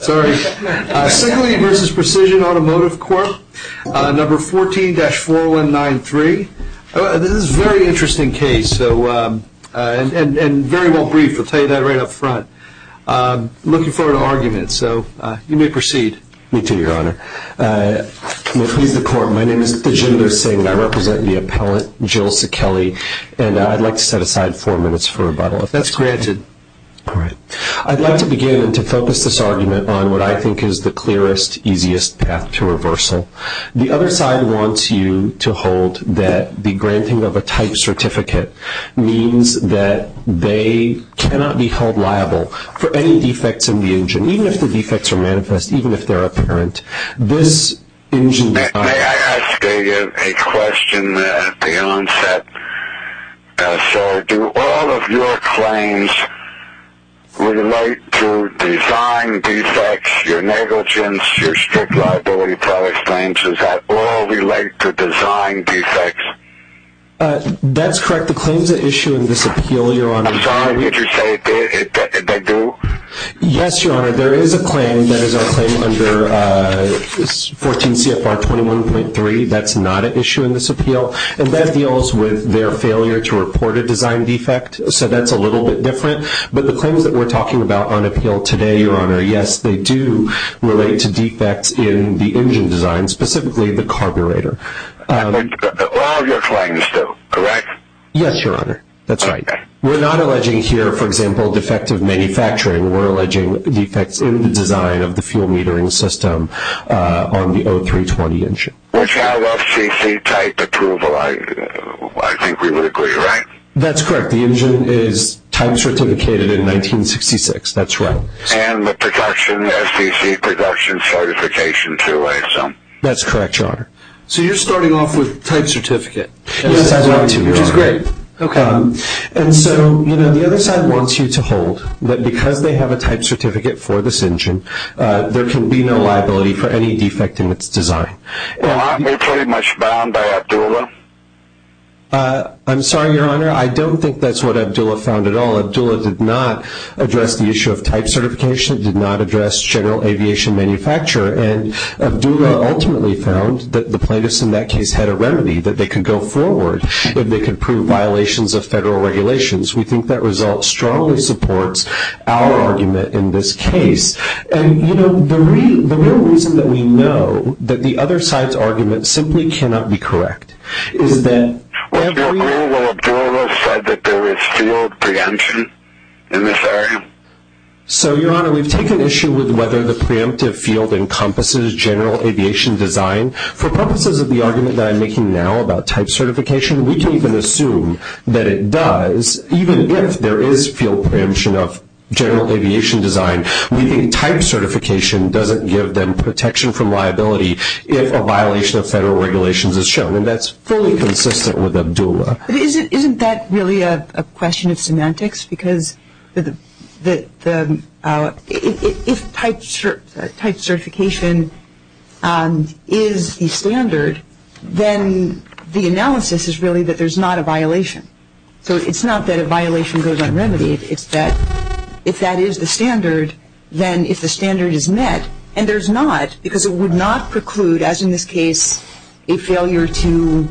Sillelee v. Precision Automotive Corp, number 14-4193. This is a very interesting case and very well briefed. I'll tell you that right up front. I'm looking forward to arguing it. You may proceed. Me too, Your Honor. To conclude the court, my name is Jim Lursing. I represent the appellant, Jill Ticheli. I'd like to set aside four minutes for rebuttal, if that's granted. All right. I'd like to begin to focus this argument on what I think is the clearest, easiest path to reversal. The other side wants you to hold that the granting of a type certificate means that they cannot be held liable for any defects in the engine, even if the defects are manifest, even if they're apparent. May I ask a question at the onset? Do all of your claims relate to design defects, your negligence, your strict liability product claims? Does that all relate to design defects? That's correct. The claims that issue in this appeal, Your Honor. I'm sorry. Did you say they do? Yes, Your Honor. There is a claim that is under 14 CFR 21.3 that's not an issue in this appeal, and that deals with their failure to report a design defect, so that's a little bit different. But the claims that we're talking about on appeal today, Your Honor, yes, they do relate to defects in the engine design, specifically the carburetor. All of your claims, though, correct? Yes, Your Honor. That's right. We're not alleging here, for example, defective manufacturing. We're alleging defects in the design of the fuel metering system on the 0320 engine. Which has FCC type approval. I think we would agree, right? That's correct. The engine is type-certificated in 1966. That's right. And the production, FCC production certification, too, I assume. That's correct, Your Honor. So you're starting off with type certificate. Yes, I am. Which is great. Okay. And so, you know, the other side wants you to hold that because they have a type certificate for this engine, there can be no liability for any defect in its design. Well, aren't we pretty much bound by ABDULA? I'm sorry, Your Honor, I don't think that's what ABDULA found at all. ABDULA did not address the issue of type certification, did not address general aviation manufacture, and ABDULA ultimately found that the plaintiffs in that case had a remedy, that they could go forward, that they could prove violations of federal regulations. We think that result strongly supports our argument in this case. And, you know, the real reason that we know that the other side's argument simply cannot be correct is that we have to agree with ABDULA that there is field preemption in this area. So, Your Honor, we've taken issue with whether the preemptive field encompasses general aviation design. For purposes of the argument that I'm making now about type certification, we can even assume that it does, even if there is field preemption of general aviation design, we think type certification doesn't give them protection from liability if a violation of federal regulations is shown. And that's fully consistent with ABDULA. Isn't that really a question of semantics? Because if type certification is the standard, then the analysis is really that there's not a violation. So it's not that a violation goes unremitted. It's that if that is the standard, then if the standard is met, and there's not, because it would not preclude, as in this case, a failure to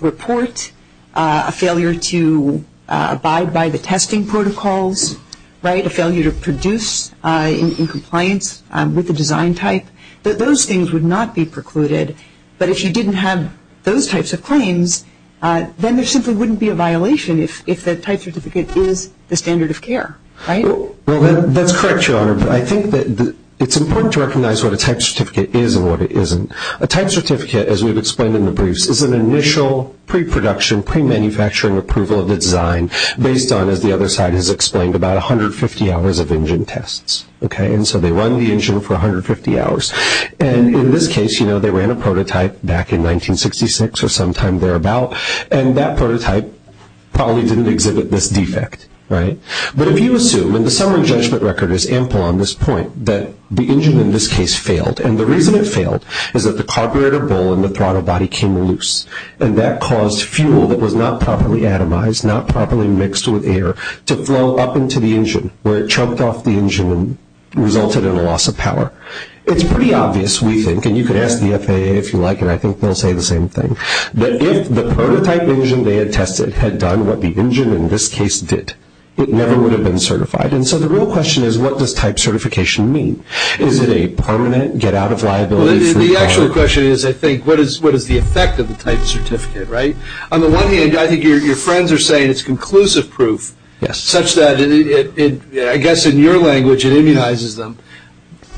report, a failure to abide by the testing protocols, right, a failure to produce in compliance with the design type, that those things would not be precluded. But if you didn't have those types of claims, then there simply wouldn't be a violation if a type certificate is the standard of care, right? Well, that's correct, Your Honor. I think that it's important to recognize what a type certificate is and what it isn't. A type certificate, as we've explained in the briefs, is an initial pre-production, pre-manufacturing approval of the design based on, as the other side has explained, about 150 hours of engine tests, okay? And so they run the engine for 150 hours. And in this case, you know, they ran a prototype back in 1966 or sometime thereabout, and that prototype probably didn't exhibit this defect, right? But if you assume, and the federal judgment record is ample on this point, that the engine in this case failed, and the reason it failed is that the carburetor bowl in the throttle body came loose, and that caused fuel that was not properly atomized, not properly mixed with air, to flow up into the engine where it choked off the engine and resulted in a loss of power. It's pretty obvious, we think, and you could ask the FAA if you like, and I think they'll say the same thing, that if the prototype engine they had tested had done what the engine in this case did, it never would have been certified. And so the real question is, what does type certification mean? Is it a permanent get-out-of-liability? The actual question is, I think, what is the effect of a type certificate, right? On the one hand, I think your friends are saying it's conclusive proof, such that I guess in your language it immunizes them.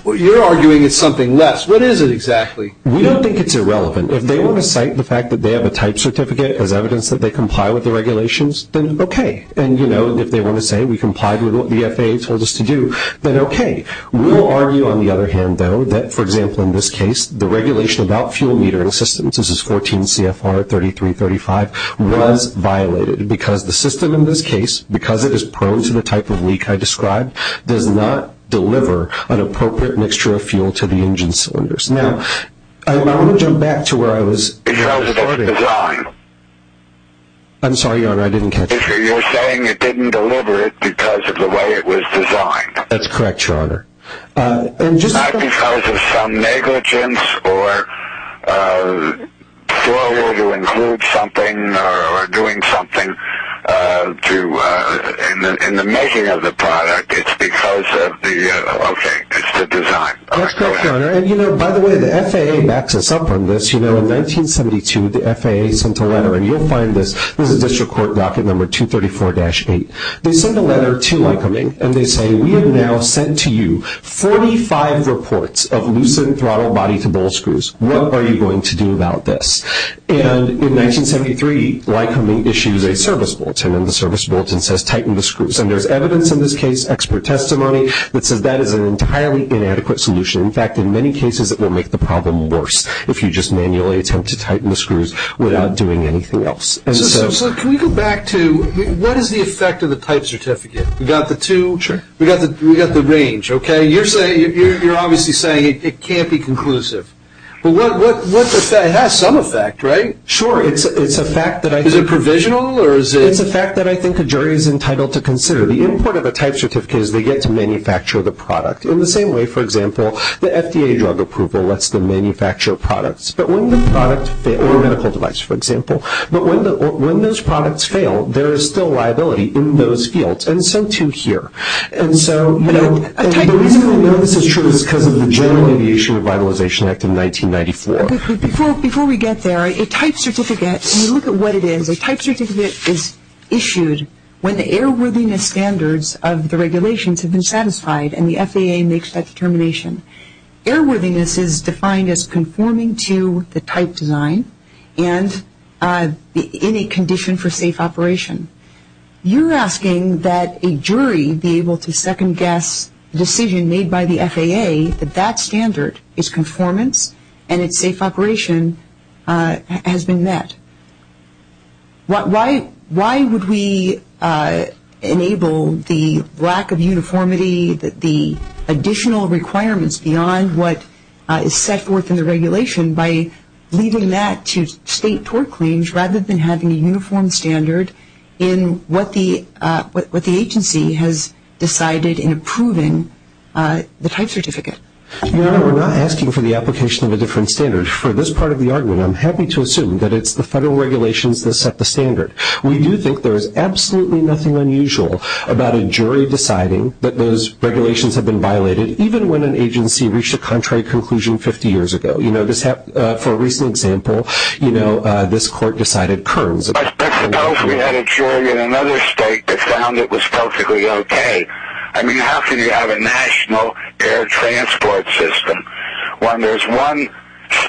You're arguing it's something less. What is it exactly? We don't think it's irrelevant. If they want to cite the fact that they have a type certificate as evidence that they comply with the regulations, then okay. And, you know, if they want to say we complied with what the FAA told us to do, then okay. We'll argue, on the other hand, though, that, for example, in this case, the regulation about fuel metering systems, this is 14 CFR 3335, was violated, because the system in this case, because it is prone to the type of leak I described, does not deliver an appropriate mixture of fuel to the engine cylinders. Now, I want to jump back to where I was. It was a good design. I'm sorry, Your Honor, I didn't catch that. You're saying it didn't deliver it because of the way it was designed. That's correct, Your Honor. Not because of some negligence or failure to include something or doing something in the making of the product. It's because of the, okay, it's the design. That's correct, Your Honor. And, you know, by the way, the FAA backs us up on this. You know, in 1972, the FAA sent a letter, and you'll find this in the district court docket number 234-8. They sent a letter to Lycoming, and they say, we have now sent to you 45 reports of loosened throttle body to bolt screws. What are you going to do about this? And in 1973, Lycoming issues a service bulletin, and the service bulletin says tighten the screws. And there's evidence in this case, expert testimony, that says that is an entirely inadequate solution. In fact, in many cases, it will make the problem worse if you just manually attempt to tighten the screws without doing anything else. Sir, can we go back to what is the effect of the type certificate? We've got the two. Sure. We've got the range, okay? You're saying, you're obviously saying it can't be conclusive. Well, what's the effect? It has some effect, right? Sure. It's a fact that I think. Is it provisional, or is it? It's a fact that I think the jury is entitled to consider. The import of a type certificate is they get to manufacture the product. In the same way, for example, the FDA drug approval lets them manufacture products. But when the products fit with medical device, for example, but when those products fail, there is still liability in those fields. And so, too, here. And so, you know, this is true because of the General Aviation Revitalization Act of 1994. Before we get there, a type certificate, when you look at what it is, a type certificate is issued when the airworthiness standards of the regulations have been satisfied and the FDA makes that determination. Airworthiness is defined as conforming to the type design, and in a condition for safe operation. You're asking that a jury be able to second-guess the decision made by the FAA that that standard is conformance and its safe operation has been met. Why would we enable the lack of uniformity, the additional requirements beyond what is set forth in the regulation by leaving that to state court claims rather than having a uniform standard in what the agency has decided in approving the type certificate? You know, we're not asking for the application of a different standard. For this part of the argument, I'm happy to assume that it's the federal regulations that set the standard. We do think there is absolutely nothing unusual about a jury deciding that those regulations have been violated, even when an agency reached a contrary conclusion 50 years ago. You know, for a recent example, you know, this court decided curbs. I suppose we had a jury in another state that found it was perfectly okay. I mean, how can you have a national air transport system when there's one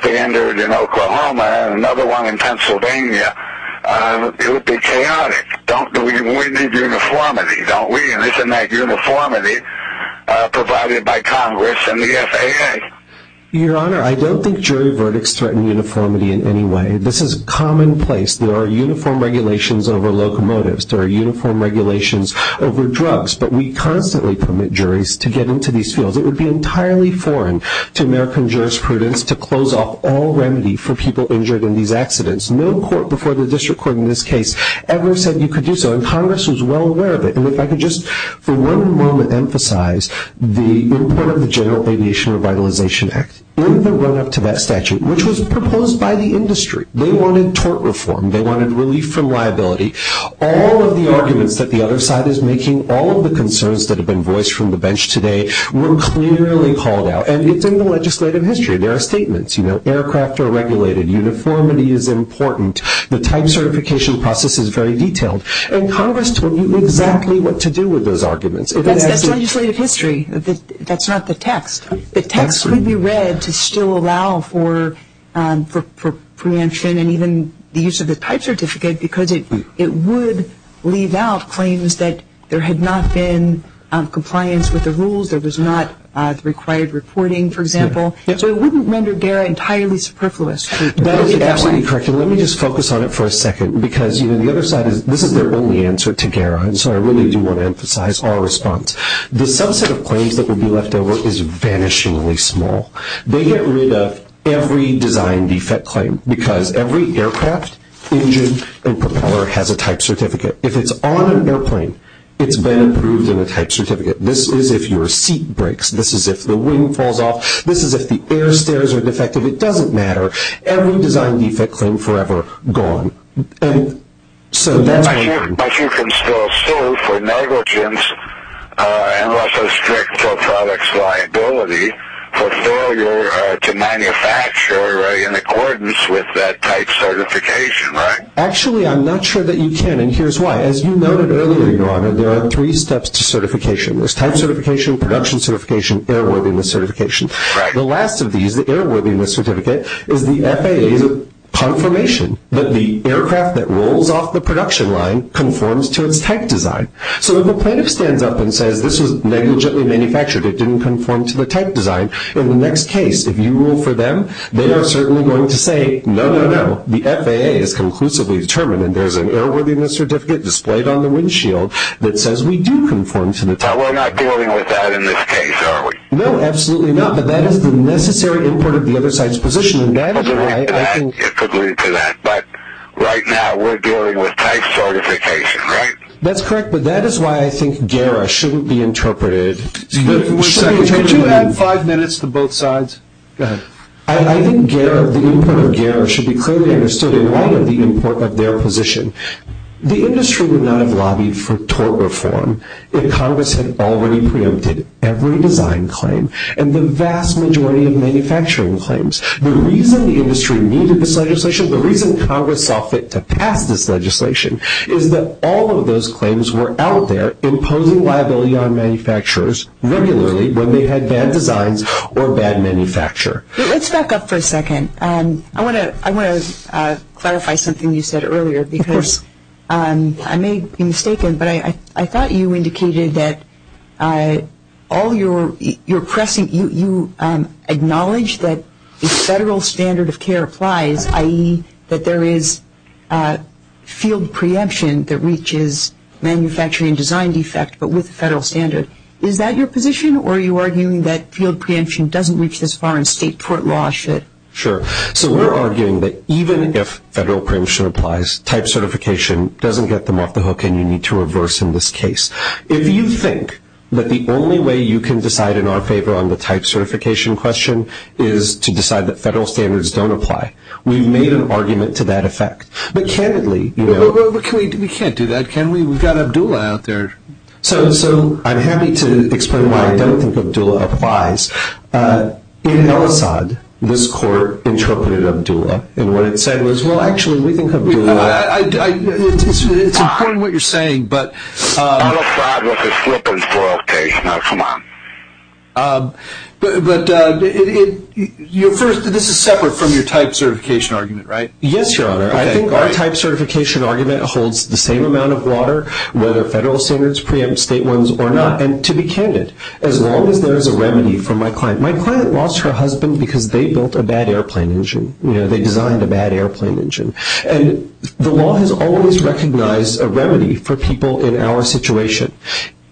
standard in Oklahoma and another one in Pennsylvania? It would be chaotic. We need uniformity, don't we? And isn't that uniformity provided by Congress and the FAA? Your Honor, I don't think jury verdicts threaten uniformity in any way. This is commonplace. There are uniform regulations over locomotives. There are uniform regulations over drugs. But we constantly permit juries to get into these fields. It would be entirely foreign to American jurisprudence to close off all remedy for people injured in these accidents. No court before the district court in this case ever said you could do so, and Congress was well aware of it. And if I could just for one moment emphasize the import of the General Aviation Revitalization Act in the run-up to that statute, which was proposed by the industry. They wanted tort reform. They wanted relief from liability. All of the arguments that the other side is making, all of the concerns that have been voiced from the bench today were clearly called out. And it's in the legislative history. There are statements. You know, aircraft are regulated. Uniformity is important. The type certification process is very detailed. And Congress told you exactly what to do with those arguments. That's legislative history. That's not the text. The text could be read to still allow for preemption and even the use of the type certificate because it would leave out claims that there had not been compliance with the rules. There was not required reporting, for example. So it wouldn't render GARA entirely superfluous. Let me just focus on it for a second. Because, you know, the other side is this is their only answer to GARA, and so I really do want to emphasize our response. The subset of claims that would be left over is vanishingly small. They get rid of every design defect claim because every aircraft, engine, and propeller has a type certificate. If it's on an airplane, it's been approved in the type certificate. This is if your seat breaks. This is if the wing falls off. This is if the air stairs are defective. It doesn't matter. Every design defect claim forever gone. But you can still sue for negligence and also strict pro-products liability for failure to manufacture in accordance with that type certification, right? Actually, I'm not sure that you can, and here's why. As you noted earlier, there are three steps to certification. There's type certification, production certification, airworthiness certification. The last of these, the airworthiness certificate, is the FAA's confirmation that the aircraft that rolls off the production line conforms to its type design. So if a plane stands up and says this was negligently manufactured, it didn't conform to the type design, in the next case, if you rule for them, they are certainly going to say, no, no, no, the FAA has conclusively determined and there's an airworthiness certificate displayed on the windshield that says we do conform to the type design. We're not dealing with that in this case, are we? No, absolutely not. But that is the necessary import of the other side's position, and that is why I think... I could lead to that. I could lead to that. But right now, we're dealing with type certification, right? That's correct, but that is why I think GARA shouldn't be interpreted. Could you add five minutes to both sides? Go ahead. I think GARA, the import of GARA should be clearly understood in light of the import of their position. The industry would not have lobbied for tort reform if Congress had already preempted every design claim and the vast majority of manufacturing claims. The reason the industry needed this legislation, the reason Congress opted to pass this legislation, is that all of those claims were out there imposing liability on manufacturers regularly when they had bad designs or a bad manufacturer. Let's back up for a second. I want to clarify something you said earlier because I may be mistaken, but I thought you indicated that you acknowledge that the federal standard of care applies, i.e., that there is field preemption that reaches manufacturing design defect, but with federal standards. Is that your position, or are you arguing that field preemption doesn't reach as far as state tort law should? Sure. So we're arguing that even if federal preemption applies, type certification doesn't get them off the hook and you need to reverse in this case. If you think that the only way you can decide in our favor on the type certification question is to decide that federal standards don't apply, we've made an argument to that effect. But candidly, you know. We can't do that, can we? We've got Abdullah out there. So I'm happy to explain why I don't think Abdullah applies. In El Asad, this court interpreted Abdullah, and what it said was, well, actually, we can help you with that. I understand what you're saying, but. El Asad was a slippery floor case, now come on. But, first, this is separate from your type certification argument, right? Yes, Your Honor. I think our type certification argument holds the same amount of water, whether federal standards preempt state ones or not, and to be candid, as long as there is a remedy for my client. My client lost her husband because they built a bad airplane engine. You know, they designed a bad airplane engine. And the law has always recognized a remedy for people in our situation.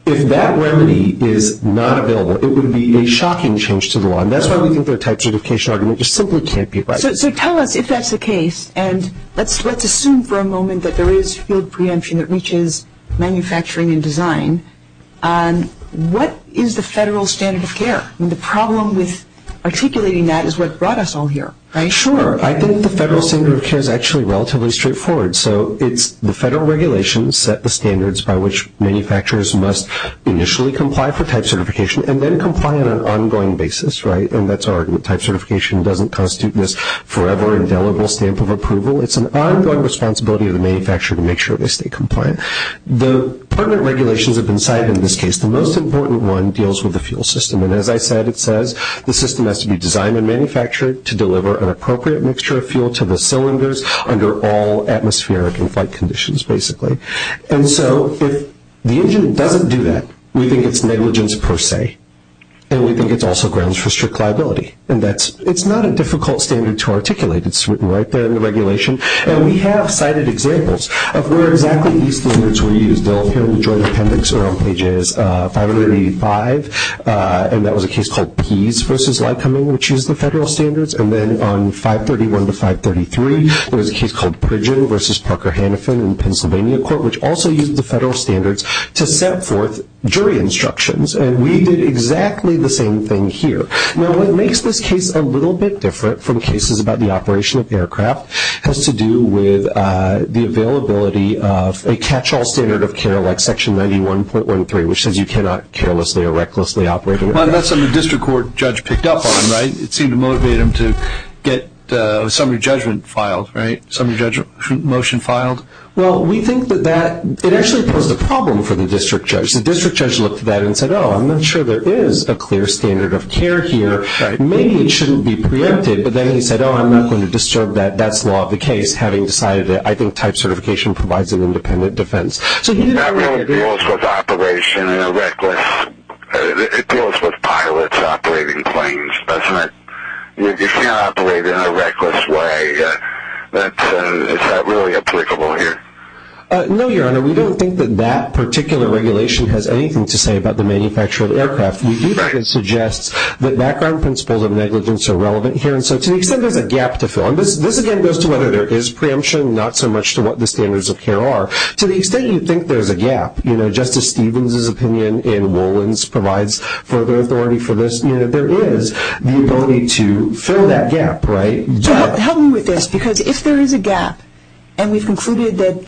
If that remedy is not available, it would be a shocking change to the law, and that's why we think their type certification argument just simply can't be right. So tell us if that's the case, and let's assume for a moment that there is field preemption that reaches manufacturing and design. What is the federal standard of care? I mean, the problem with articulating that is what brought us all here, right? Sure. I think the federal standard of care is actually relatively straightforward. So the federal regulations set the standards by which manufacturers must initially comply for type certification and then comply on an ongoing basis, right? And that's our argument. Type certification doesn't constitute this forever indelible stamp of approval. It's an ongoing responsibility of the manufacturer to make sure they stay compliant. The permanent regulations have been cited in this case. The most important one deals with the fuel system. And as I said, it says the system has to be designed and manufactured to deliver an appropriate mixture of fuel to the cylinders under all atmospheric and flight conditions, basically. And so if the engine doesn't do that, we think it's negligence per se, and we think it's also grounds for strict liability. And it's not a difficult standard to articulate. It's written right there in the regulation. And we have cited examples of where exactly these standards were used. They'll appear in the jury appendix or on pages 585. And that was a case called Pease v. Lycoming, which used the federal standards. And then on 531 to 533, there was a case called Pridgen v. Parker-Hannifin in Pennsylvania court, which also used the federal standards to set forth jury instructions. And we did exactly the same thing here. Now what makes this case a little bit different from cases about the operation of aircraft has to do with the availability of a catch-all standard of care like Section 91.13, which says you cannot carelessly or recklessly operate an aircraft. That's something the district court judge picked up on, right? It seemed to motivate him to get a summary judgment filed, right? Summary judgment motion filed. Well, we think that that actually posed a problem for the district judge. The district judge looked at that and said, oh, I'm not sure there is a clear standard of care here. Maybe it shouldn't be preempted. But then he said, oh, I'm not going to disturb that. That's not the case, having decided that I think type certification provides an independent defense. It deals with pilots operating planes, doesn't it? You cannot operate in a reckless way. Is that really applicable here? No, Your Honor. We don't think that that particular regulation has anything to say about the manufacture of aircraft. We do think it suggests that background principles of negligence are relevant here. And so to the extent there's a gap to fill. And this, again, goes to whether there is preemption, not so much to what the standards of care are. To the extent you think there's a gap, you know, Justice Stevens' opinion and Wolin's provides further authority for this, you know, there is the ability to fill that gap, right? Help me with this, because if there is a gap and we've concluded that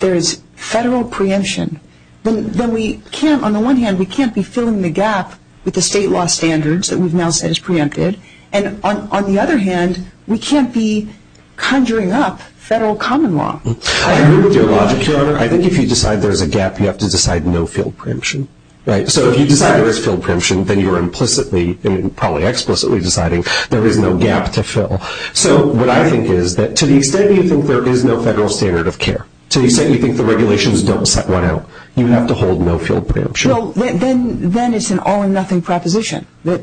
there is federal preemption, then we can't, on the one hand, we can't be filling the gap with the state law standards that we've now said is preempted, and on the other hand, we can't be conjuring up federal common law. I agree with you a lot, Your Honor. I think if you decide there's a gap, you have to decide no field preemption, right? So if you decide there is field preemption, then you're implicitly and probably explicitly deciding there is no gap to fill. So what I think is that to the extent you think there is no federal standard of care, to the extent you think the regulations don't set one out, you have to hold no field preemption. So then it's an all-or-nothing proposition that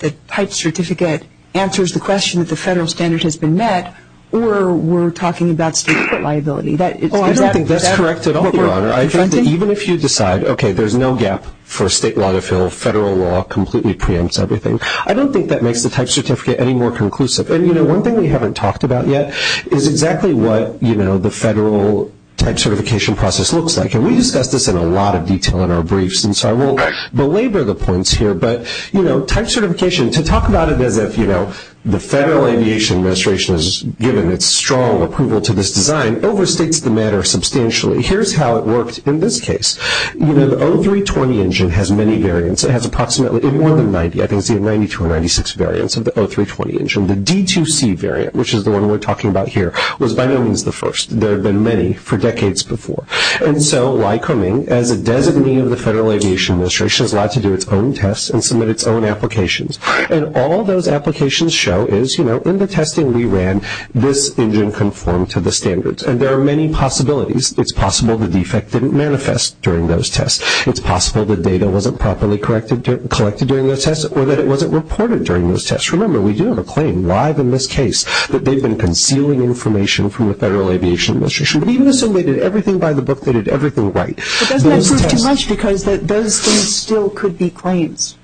the type certificate answers the question that the federal standard has been met, or we're talking about state liability. I don't think that's correct at all, Your Honor. I think that even if you decide, okay, there's no gap for state law to fill, federal law completely preempts everything, I don't think that makes the type certificate any more conclusive. And, you know, one thing we haven't talked about yet is exactly what, you know, the federal type certification process looks like, and we discussed this in a lot of detail in our briefs, and so I won't belabor the points here, but, you know, type certification, to talk about it as if, you know, the Federal Aviation Administration has given its strong approval to this design overstates the matter substantially. Here's how it works in this case. You know, the O320 engine has many variants. It has approximately more than 90. I think it's either 92 or 96 variants of the O320 engine. The D2C variant, which is the one we're talking about here, was by no means the first. There have been many for decades before. And so, Lycoming, as a designee of the Federal Aviation Administration, is allowed to do its own tests and submit its own applications. And all those applications show is, you know, in the testing we ran, this engine conformed to the standards. And there are many possibilities. It's possible the defect didn't manifest during those tests. It's possible the data wasn't properly collected during those tests, or that it wasn't reported during those tests. Remember, we do have a claim live in this case that they've been concealing information from the Federal Aviation Administration, but even assuming they did everything by the book, they did everything right. But doesn't that seem too much, because those things still could be claims?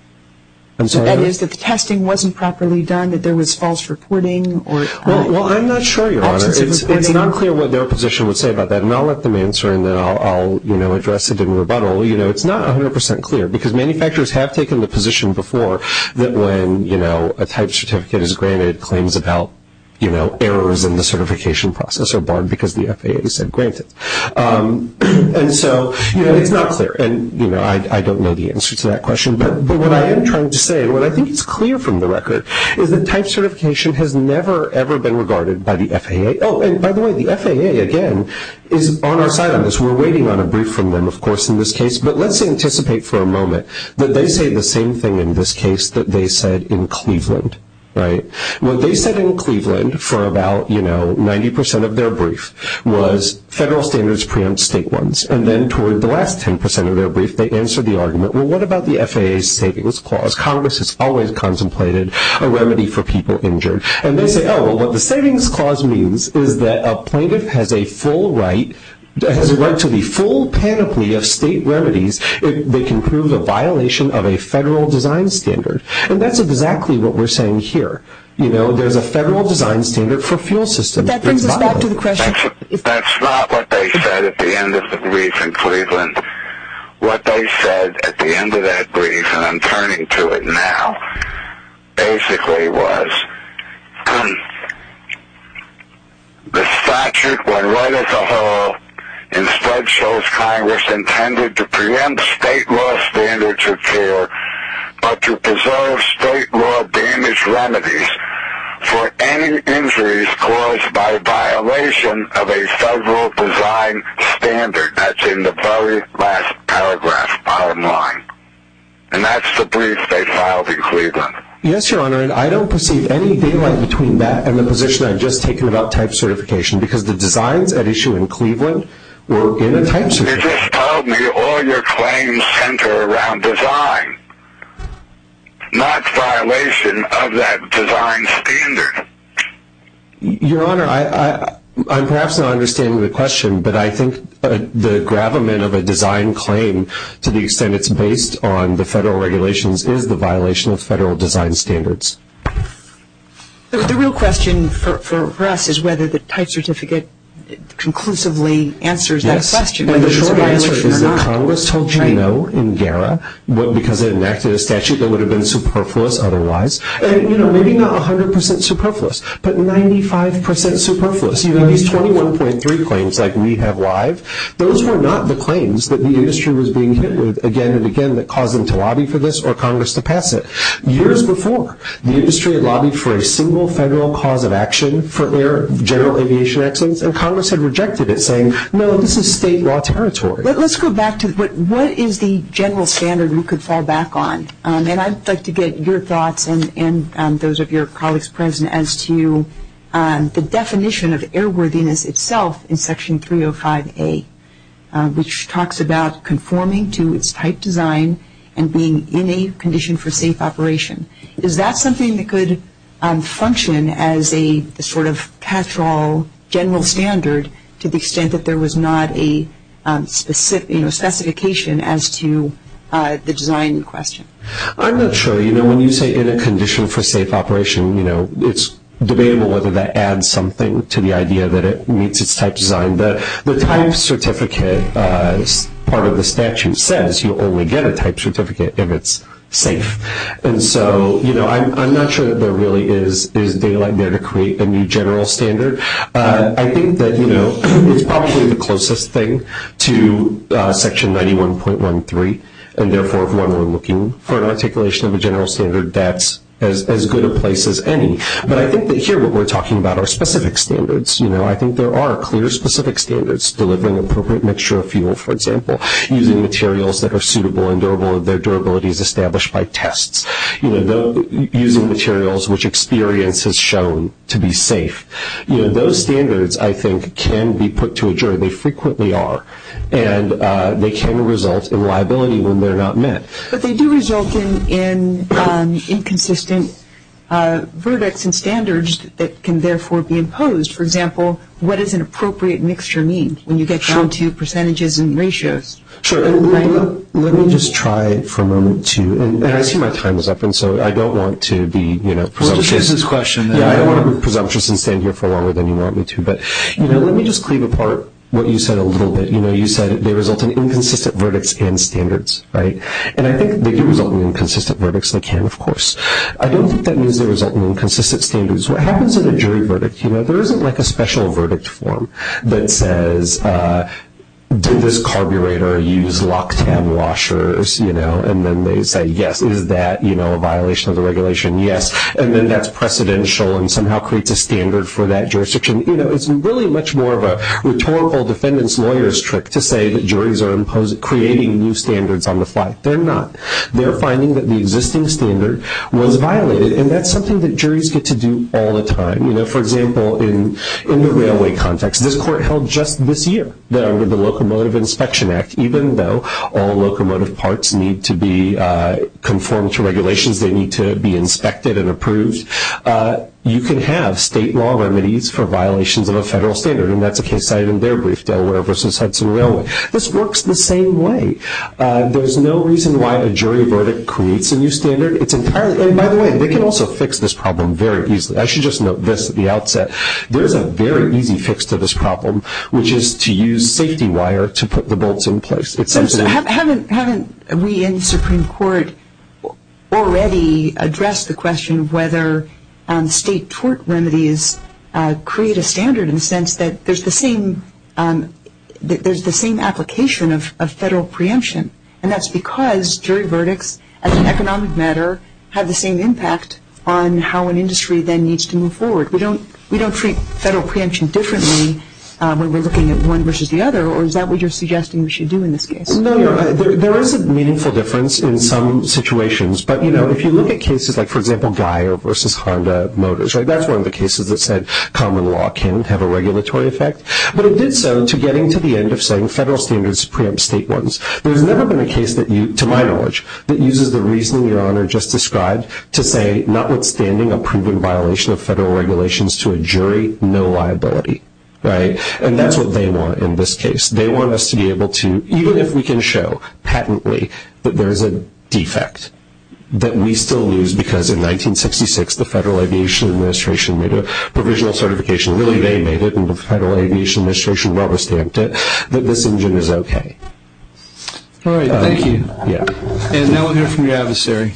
I'm sorry? That is, that the testing wasn't properly done, that there was false reporting? Well, I'm not sure, Your Honor. It's not clear what their position would say about that, and I'll let them answer, and then I'll, you know, address it in rebuttal. You know, it's not 100% clear, because manufacturers have taken the position before that when, you know, a type certificate is granted, claims about, you know, errors in the certification process are barred because the FAA said grant it. And so, you know, it's not clear. And, you know, I don't know the answer to that question. But what I am trying to say, and what I think is clear from the record, is that type certification has never, ever been regarded by the FAA. Oh, and by the way, the FAA, again, is on our side on this. We're waiting on a brief from them, of course, in this case. But let's anticipate for a moment that they say the same thing in this case that they said in Cleveland, right? What they said in Cleveland for about, you know, 90% of their brief was federal standards preempt state ones. And then toward the last 10% of their brief, they answered the argument, well, what about the FAA's savings clause? Congress has always contemplated a remedy for people injured. And they said, oh, well, what the savings clause means is that a plaintiff has a full right, has a right to the full panoply of state remedies that can prove the violation of a federal design standard. And that's exactly what we're saying here. You know, there's a federal design standard for fuel systems. But that brings us back to the question. That's not what they said at the end of the brief in Cleveland. What they said at the end of that brief, and I'm turning to it now, basically was the statute, when read as a whole, instead shows Congress intended to preempt state law standards of care, but to preserve state law damage remedies for any injuries caused by a violation of a federal design standard. That's in the very last paragraph, bottom line. And that's the brief they filed in Cleveland. Yes, Your Honor. And I don't perceive any difference between that and the position I've just taken about type certification, because the designs at issue in Cleveland were in a type certificate. They just told me all your claims center around design, not violation of that design standard. Your Honor, I'm perhaps not understanding the question, but I think the gravamen of a design claim to the extent it's based on the federal regulations is the violation of federal design standards. The real question for us is whether the type certificate conclusively answers that question. And the short answer is Congress told you no in GARA, because it enacted a statute that would have been superfluous otherwise. You know, maybe not 100% superfluous, but 95% superfluous. You know, these 21.3 claims that we have live, those were not the claims that the industry was being hit with again and again that caused them to lobby for this or Congress to pass it. Years before, the industry had lobbied for a single federal cause of action for air, general aviation accidents, and Congress had rejected it, saying, no, this is state law territory. Let's go back to what is the general standard we could fall back on. And I'd like to get your thoughts and those of your colleagues present as to the definition of airworthiness itself in Section 305A, which talks about conforming to its type design and being in a condition for safe operation. Is that something that could function as a sort of catch-all general standard to the extent that there was not a specification as to the design in question? I'm not sure. You know, when you say in a condition for safe operation, you know, it's debatable whether that adds something to the idea that it meets its type design. But the type certificate part of the statute says you'll only get a type certificate if it's safe. And so, you know, I'm not sure that there really is data out there to create a new general standard. I think that, you know, it's probably the closest thing to Section 91.13, and therefore, when we're looking for an articulation of a general standard, that's as good a place as any. But I think that here we're talking about our specific standards. You know, I think there are clear specific standards, delivering appropriate mixture of fuel, for example, using materials that are suitable and durable, and their durability is established by tests. You know, using materials which experience has shown to be safe. You know, those standards, I think, can be put to a jury. They frequently are. And they can result in liability when they're not met. But they do result in inconsistent verdicts and standards that can therefore be imposed. For example, what does an appropriate mixture mean when you get down to percentages and ratios? Sure. Let me just try for a moment to, and I see my time is up, and so I don't want to be, you know, presumptuous. Let's just use this question then. Yeah, I don't want to be presumptuous and stand here for longer than you want me to. But, you know, let me just clean apart what you said a little bit. You know, you said they result in inconsistent verdicts and standards, right? And I think they can result in inconsistent verdicts, and they can, of course. I don't think that means they result in inconsistent standards. What happens in a jury verdict? You know, there isn't like a special verdict form that says, did this carburetor use locks and washers, you know? And then they say, yes. Is that, you know, a violation of the regulation? Yes. And then that's precedential and somehow creates a standard for that jurisdiction. You know, it's really much more of a rhetorical defendant's lawyer's trick to say that juries are creating new standards on the fly. They're not. They're finding that the existing standard was violated, and that's something that juries get to do all the time. You know, for example, in the railway context, this court held just this year that under the Locomotive Inspection Act, even though all locomotive parts need to be conformed to regulations, they need to be inspected and approved, you can have state law remedies for violations of a federal standard. And that's a case I had in their brief, Delaware v. Hudson Railway. This works the same way. There's no reason why a jury verdict creates a new standard. It's entirely – and by the way, they can also fix this problem very easily. I should just note this at the outset. There's a very easy fix to this problem, which is to use safety wire to put the bolts in place. Haven't we in the Supreme Court already addressed the question of whether state tort remedies create a standard in the sense that there's the same application of federal preemption, and that's because jury verdicts, as an economic matter, have the same impact on how an industry then needs to move forward. We don't treat federal preemption differently when we're looking at one versus the other, or is that what you're suggesting we should do in this case? No, there is a meaningful difference in some situations. But, you know, if you look at cases like, for example, Dyer v. Honda Motors, right, that's one of the cases that said common law can have a regulatory effect. But it did so to getting to the end of saying federal standards preempt state ones. There's never been a case, to my knowledge, that uses the reasoning Your Honor just described to say, notwithstanding a proven violation of federal regulations to a jury, no liability, right? And that's what they want in this case. They want us to be able to – even if we can show patently that there's a defect that we still lose because in 1966, the Federal Aviation Administration made a provisional certification. Really, they made it, and the Federal Aviation Administration rubber stamped it that this engine is okay. All right. Thank you. And now we'll hear from your adversary.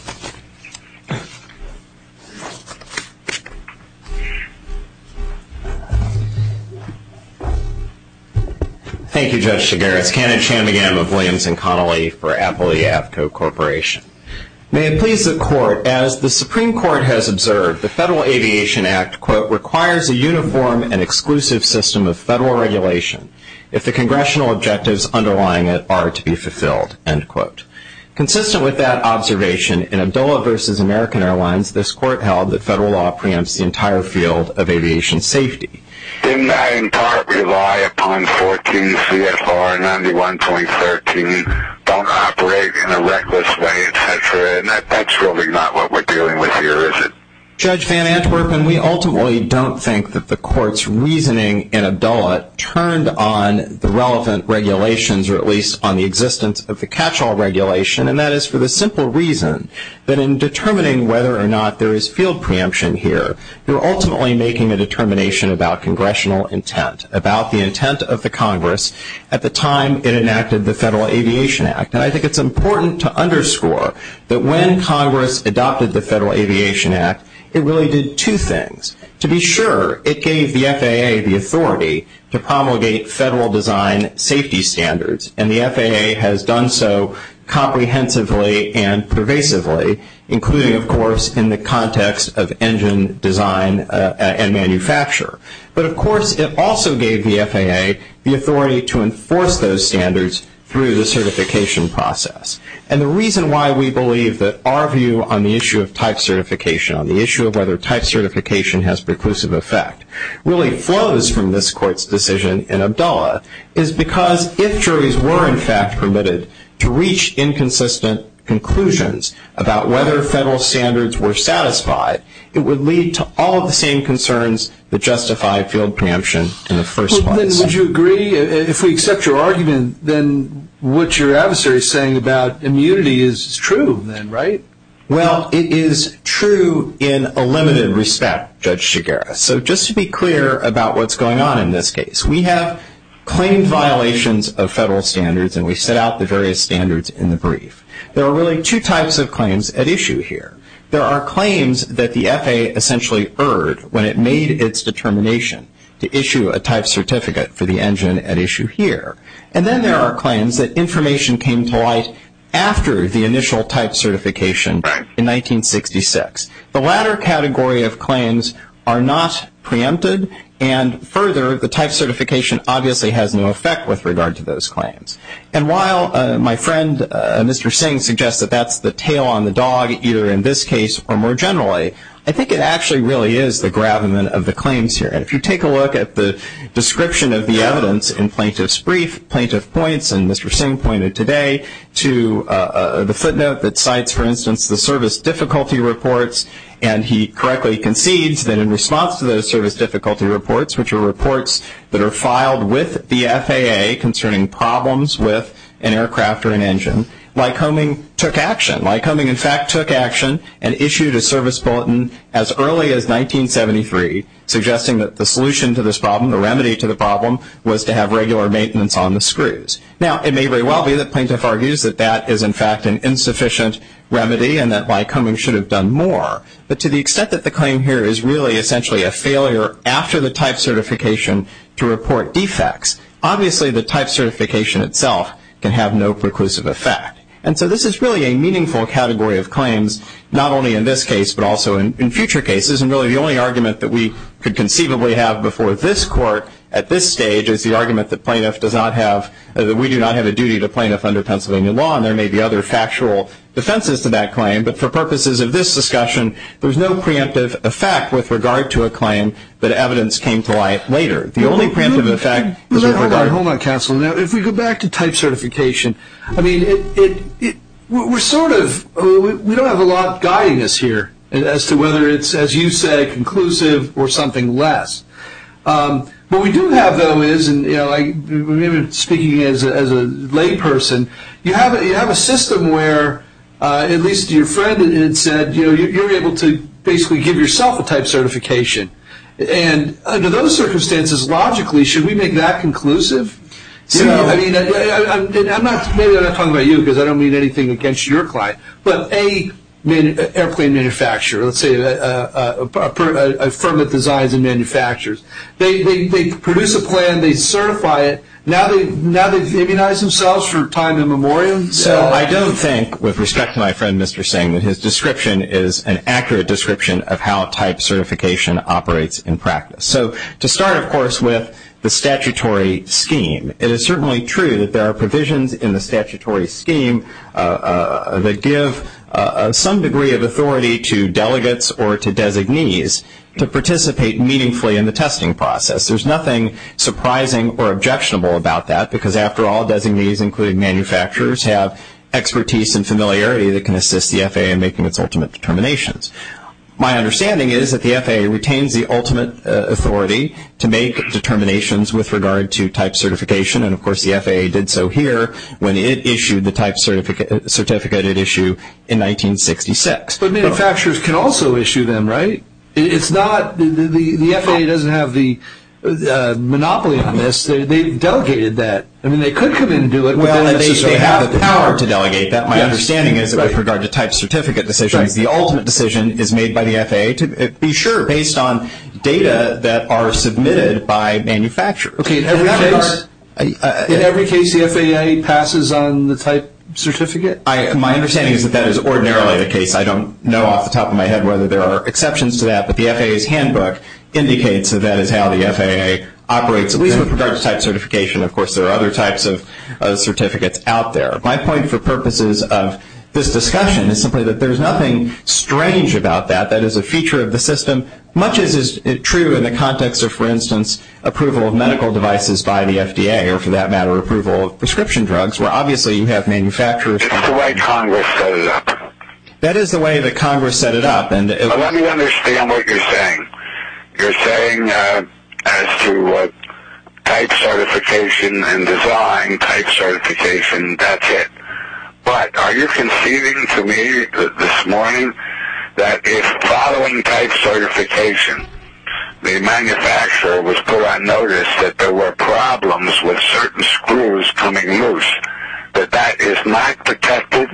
Thank you, Judge Chigaris. Kenneth Chamigan of Williamson Connolly for Appalachia Avco Corporation. May it please the Court. Your Honor, as the Supreme Court has observed, the Federal Aviation Act, quote, requires a uniform and exclusive system of federal regulation. If the congressional objectives underlying it are to be fulfilled, end quote. Consistent with that observation, in Abdullah v. American Airlines, this court held that federal law preempts the entire field of aviation safety. Didn't that in part rely upon 14 CFR 91.13, don't operate in a reckless way, et cetera, and that's really not what we're dealing with here, is it? Judge Van Antwerpen, we ultimately don't think that the Court's reasoning in Abdullah turned on the relevant regulations, or at least on the existence of the catch-all regulation, and that is for the simple reason that in determining whether or not there is field preemption here, we're ultimately making a determination about congressional intent, about the intent of the Congress, at the time it enacted the Federal Aviation Act. Now, I think it's important to underscore that when Congress adopted the Federal Aviation Act, it really did two things. To be sure, it gave the FAA the authority to promulgate federal design safety standards, and the FAA has done so comprehensively and pervasively, including, of course, in the context of engine design and manufacture. But, of course, it also gave the FAA the authority to enforce those standards through the certification process. And the reason why we believe that our view on the issue of type certification, on the issue of whether type certification has preclusive effect, really flows from this Court's decision in Abdullah, is because if juries were, in fact, permitted to reach inconsistent conclusions about whether federal standards were satisfied, it would lead to all of the same concerns that justify field preemption in the first place. Well, then, would you agree? If we accept your argument, then what your adversary is saying about immunity is true, then, right? Well, it is true in a limited respect, Judge Shigera. So, just to be clear about what's going on in this case, we have claimed violations of federal standards, and we set out the various standards in the brief. There are really two types of claims at issue here. There are claims that the FAA essentially erred when it made its determination to issue a type certificate for the engine at issue here. And then there are claims that information came to light after the initial type certification in 1966. The latter category of claims are not preempted, and, further, the type certification obviously has no effect with regard to those claims. And while my friend, Mr. Singh, suggests that that's the tail on the dog, either in this case or more generally, I think it actually really is the gravamen of the claims here. And if you take a look at the description of the evidence in plaintiff's brief, plaintiff points, and Mr. Singh pointed today to the footnote that cites, for instance, the service difficulty reports, and he correctly concedes that in response to those service difficulty reports, which are reports that are filed with the FAA concerning problems with an aircraft or an engine, Lycoming took action. Lycoming, in fact, took action and issued a service bulletin as early as 1973, suggesting that the solution to this problem, the remedy to the problem, was to have regular maintenance on the screws. Now, it may very well be that plaintiff argues that that is, in fact, an insufficient remedy and that Lycoming should have done more, but to the extent that the claim here is really essentially a failure after the type certification to report defects, obviously the type certification itself can have no preclusive effect. And so this is really a meaningful category of claims, not only in this case but also in future cases, and really the only argument that we could conceivably have before this court at this stage is the argument that we do not have a duty to plaintiffs under Pennsylvania law, and there may be other factual defenses to that claim. But for purposes of this discussion, there's no preemptive effect with regard to a claim that evidence came to life later. The only preemptive effect is with regard to the type certification. If we go back to type certification, I mean, we're sort of, we don't have a lot guiding us here as to whether it's, as you say, conclusive or something less. What we do have, though, is, and, you know, speaking as a layperson, you have a system where at least your friend said, you know, you're able to basically give yourself a type certification. And under those circumstances, logically, should we make that conclusive? You know, I mean, I'm not talking about you because I don't mean anything against your client, but an airplane manufacturer, let's say a firm that designs and manufactures, they produce a plan, and they certify it, now they've immunized themselves for time in memoriam. So I don't think, with respect to my friend Mr. Singh, that his description is an accurate description of how type certification operates in practice. So to start, of course, with the statutory scheme, it is certainly true that there are provisions in the statutory scheme that give some degree of authority to delegates or to designees to participate meaningfully in the testing process. There's nothing surprising or objectionable about that because, after all, designees, including manufacturers, have expertise and familiarity that can assist the FAA in making its ultimate determinations. My understanding is that the FAA retains the ultimate authority to make determinations with regard to type certification, and, of course, the FAA did so here when it issued the type certificate it issued in 1966. But manufacturers can also issue them, right? The FAA doesn't have the monopoly on this. They've delegated that. I mean, they could come in and do it, but then they don't have the power to delegate that. My understanding is that with regard to type certificate decisions, the ultimate decision is made by the FAA to be sure based on data that are submitted by manufacturers. In every case, the FAA passes on the type certificate? My understanding is that that is ordinarily the case. I don't know off the top of my head whether there are exceptions to that, but the FAA's handbook indicates that that is how the FAA operates. With regard to type certification, of course, there are other types of certificates out there. My point for purposes of this discussion is simply that there's nothing strange about that. That is a feature of the system, much as is true in the context of, for instance, approval of medical devices by the FDA or, for that matter, approval of prescription drugs, It's the way Congress set it up. That is the way that Congress set it up. Let me understand what you're saying. You're saying as to type certification and design type certification, that's it. But are you conceding to me this morning that if following type certification, the manufacturer was put on notice that there were problems with certain screws coming loose, that that is not protected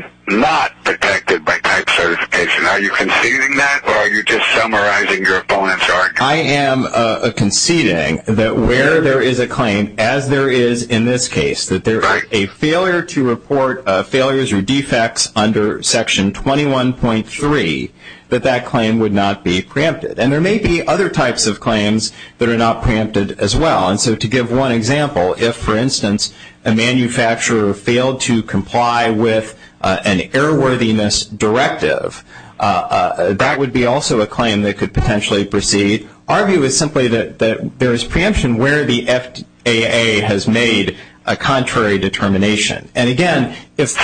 by type certification? Are you conceding that or are you just summarizing your opponent's argument? I am conceding that where there is a claim, as there is in this case, that there is a failure to report failures or defects under Section 21.3, that that claim would not be preempted. And there may be other types of claims that are not preempted as well. And so to give one example, if, for instance, a manufacturer failed to comply with an error-worthiness directive, that would be also a claim that could potentially proceed. Our view is simply that there is preemption where the FAA has made a contrary determination. And, again, if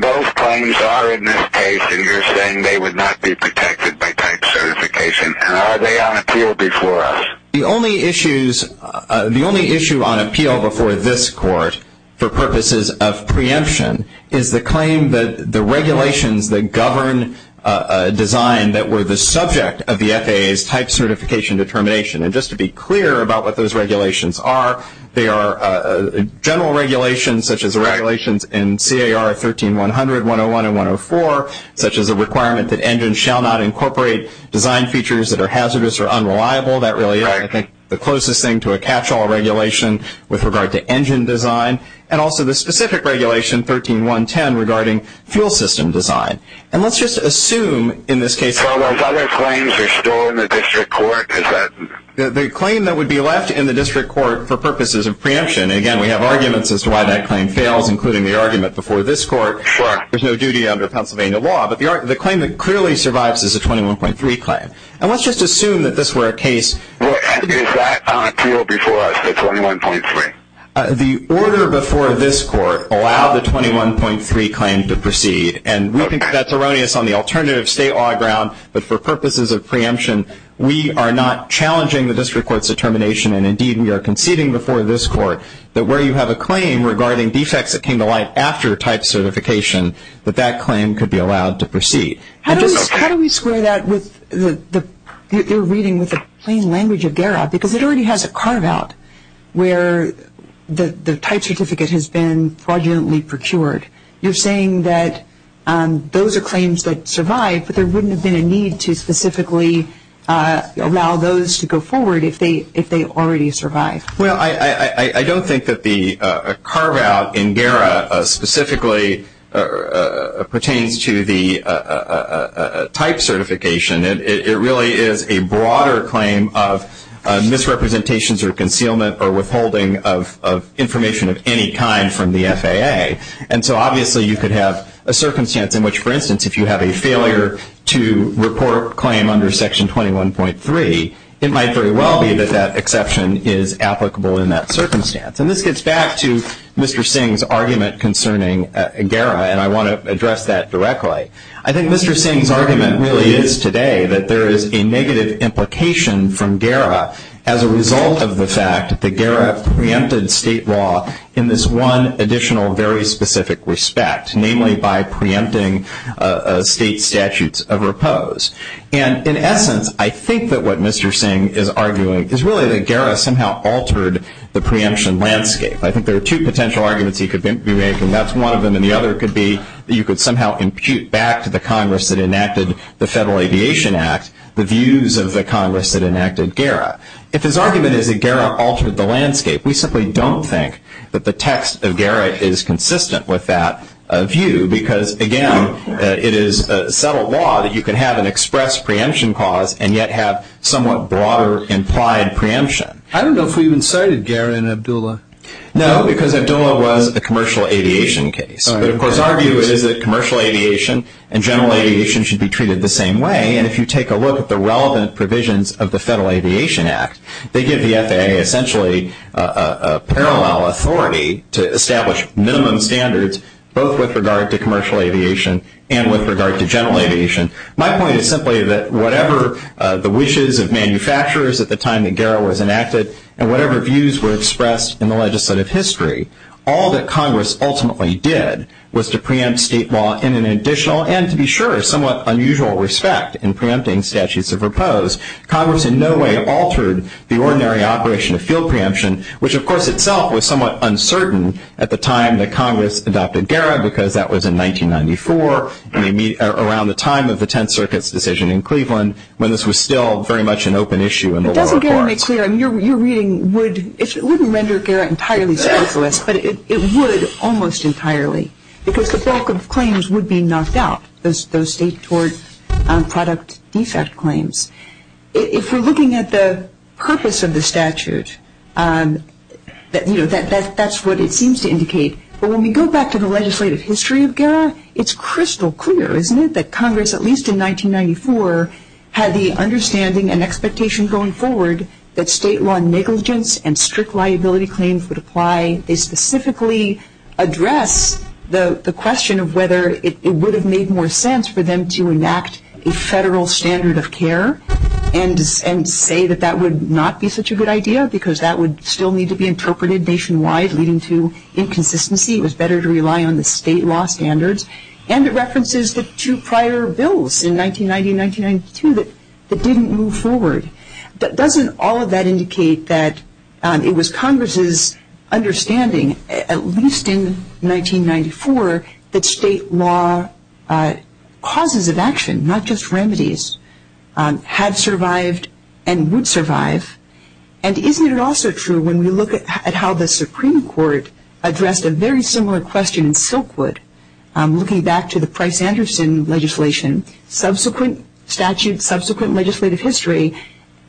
both claims are in this case, then you're saying they would not be protected by type certification. Are they on appeal before us? The only issue on appeal before this Court for purposes of preemption is the claim that the regulations that govern design that were the subject of the FAA's type certification determination. And just to be clear about what those regulations are, they are general regulations, such as the regulations in CAR 13-100, 101, and 104, such as the requirement that engines shall not incorporate design features that are hazardous or unreliable. That really is, I think, the closest thing to a catch-all regulation with regard to engine design. And also the specific regulation, 13-110, regarding fuel system design. And let's just assume in this case. So those other claims are still in the district court? The claim that would be left in the district court for purposes of preemption. And, again, we have arguments as to why that claim fails, including the argument before this Court. There's no duty under Pennsylvania law. But the claim that clearly survives is the 21.3 claim. And let's just assume that this were a case. Is that on appeal before us, the 21.3? The order before this Court allowed the 21.3 claim to proceed. And we think that's erroneous on the alternative state law ground. But for purposes of preemption, we are not challenging the district court's determination. And, indeed, we are conceding before this Court that where you have a claim regarding defects that came to life after type certification, that that claim could be allowed to proceed. How do we square that with the reading with the plain language of DARA? Because it already has a carve-out where the type certificate has been fraudulently procured. You're saying that those are claims that survive, but there wouldn't have been a need to specifically allow those to go forward if they already survived. Well, I don't think that the carve-out in DARA specifically pertains to the type certification. It really is a broader claim of misrepresentations or concealment or withholding of information of any kind from the FAA. And so, obviously, you could have a circumstance in which, for instance, if you have a failure to report a claim under Section 21.3, it might very well be that that exception is applicable in that circumstance. And this gets back to Mr. Singh's argument concerning GARA, and I want to address that directly. I think Mr. Singh's argument really is today that there is a negative implication from GARA as a result of the fact that GARA preempted state law in this one additional very specific respect, namely by preempting state statutes of repose. And in essence, I think that what Mr. Singh is arguing is really that GARA somehow altered the preemption landscape. I think there are two potential arguments he could be making. That's one of them, and the other could be that you could somehow impute back to the Congress that enacted the Federal Aviation Act the views of the Congress that enacted GARA. If his argument is that GARA altered the landscape, we simply don't think that the text of GARA is consistent with that view because, again, it is a subtle law that you could have an express preemption clause and yet have somewhat broader implied preemption. I don't know if we've incited GARA in Abdullah. No, because Abdullah was the commercial aviation case. But, of course, our view is that commercial aviation and general aviation should be treated the same way, and if you take a look at the relevant provisions of the Federal Aviation Act, they give the FAA essentially a parallel authority to establish minimum standards both with regard to commercial aviation and with regard to general aviation. My point is simply that whatever the wishes of manufacturers at the time that GARA was enacted and whatever views were expressed in the legislative history, all that Congress ultimately did was to preempt state law in an additional and, to be sure, somewhat unusual respect in preempting statutes of repose. Congress in no way altered the ordinary operation of field preemption, which, of course, itself was somewhat uncertain at the time that Congress adopted GARA because that was in 1994 around the time of the Tenth Circuit's decision in Cleveland It doesn't get any clearer. Your reading wouldn't render GARA entirely speculative, but it would almost entirely because the back of claims would be knocked out, those state towards product defect claims. If you're looking at the purpose of the statute, that's what it seems to indicate. But when we go back to the legislative history of GARA, it's crystal clear, isn't it, that Congress, at least in 1994, had the understanding and expectation going forward that state law negligence and strict liability claims would apply. They specifically address the question of whether it would have made more sense for them to enact a federal standard of care and say that that would not be such a good idea because that would still need to be interpreted nationwide, leading to inconsistency. It was better to rely on the state law standards. And it references the two prior bills in 1990 and 1992 that didn't move forward. But doesn't all of that indicate that it was Congress's understanding, at least in 1994, that state law causes of action, not just remedies, had survived and would survive? And isn't it also true when we look at how the Supreme Court addressed a very similar question in Silkwood, looking back to the Price-Anderson legislation, subsequent statute, subsequent legislative history,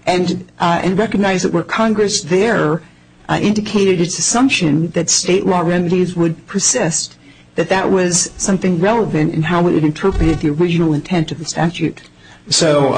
and recognize that where Congress there indicated its assumption that state law remedies would persist, that that was something relevant in how it interpreted the original intent of the statute? So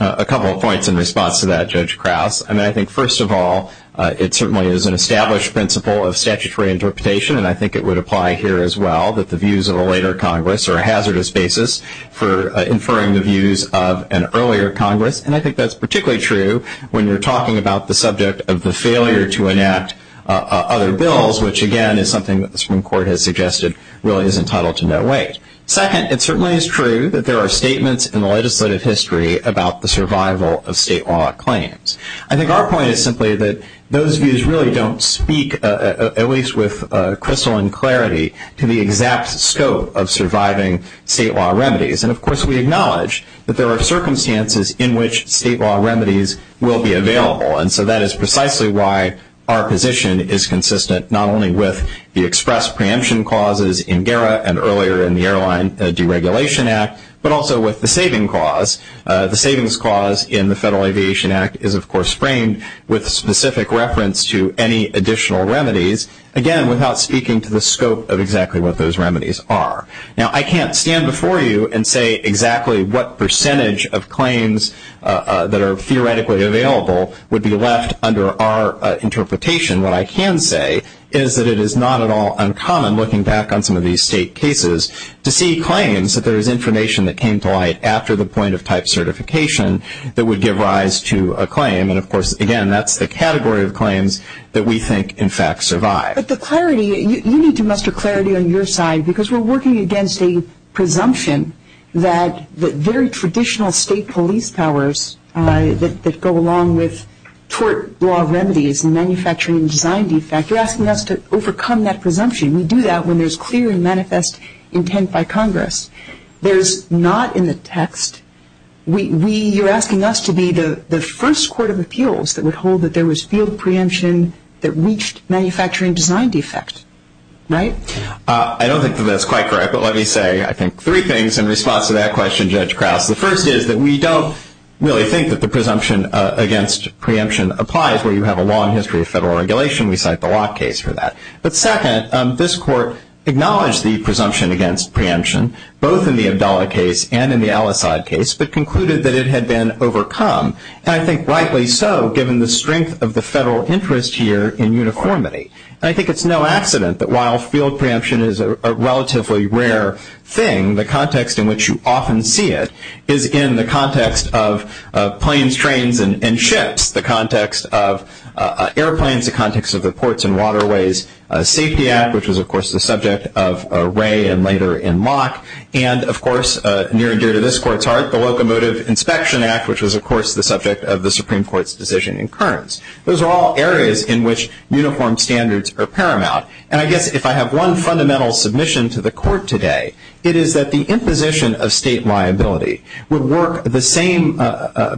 a couple of points in response to that, Judge Krauss. I mean, I think, first of all, it certainly is an established principle of statutory interpretation, and I think it would apply here as well, that the views of a later Congress are a hazardous basis for inferring the views of an earlier Congress. And I think that's particularly true when you're talking about the subject of the failure to enact other bills, which, again, is something that the Supreme Court has suggested really is entitled to no weight. Second, it certainly is true that there are statements in the legislative history about the survival of state law claims. I think our point is simply that those views really don't speak, at least with crystalline clarity, to the exact scope of surviving state law remedies. And, of course, we acknowledge that there are circumstances in which state law remedies will be available, and so that is precisely why our position is consistent not only with the express preemption clauses in GERA and earlier in the Airline Deregulation Act, but also with the savings clause. The savings clause in the Federal Aviation Act is, of course, framed with specific reference to any additional remedies, again, without speaking to the scope of exactly what those remedies are. Now, I can't stand before you and say exactly what percentage of claims that are theoretically available would be left under our interpretation. What I can say is that it is not at all uncommon, looking back on some of these state cases, to see claims that there is information that came to light after the point of type certification that would give rise to a claim. And, of course, again, that's the category of claims that we think, in fact, survive. But the clarity, you need to muster clarity on your side because we're working against a presumption that very traditional state police powers that go along with tort law remedies and manufacturing design defect are asking us to overcome that presumption. We do that when there's clear and manifest intent by Congress. There's not in the text. You're asking us to be the first court of appeals that would hold that there was field preemption that reached manufacturing design defects, right? I don't think that that's quite correct, but let me say, I think, three things in response to that question, Judge Krause. The first is that we don't really think that the presumption against preemption applies where you have a long history of federal regulation. We cite the Roth case for that. But second, this court acknowledged the presumption against preemption, both in the Abdallah case and in the Al-Assad case, but concluded that it had been overcome, and I think rightly so, given the strength of the federal interest here in uniformity. And I think it's no accident that while field preemption is a relatively rare thing, the context in which you often see it is in the context of planes, trains, and ships, the context of airplanes, the context of the Ports and Waterways Safety Act, which was, of course, the subject of Ray and later in Locke, and, of course, near and dear to this court's heart, the Locomotive Inspection Act, which was, of course, the subject of the Supreme Court's decision in Kearns. Those are all areas in which uniform standards are paramount. And I guess if I have one fundamental submission to the court today, it is that the imposition of state liability would work the same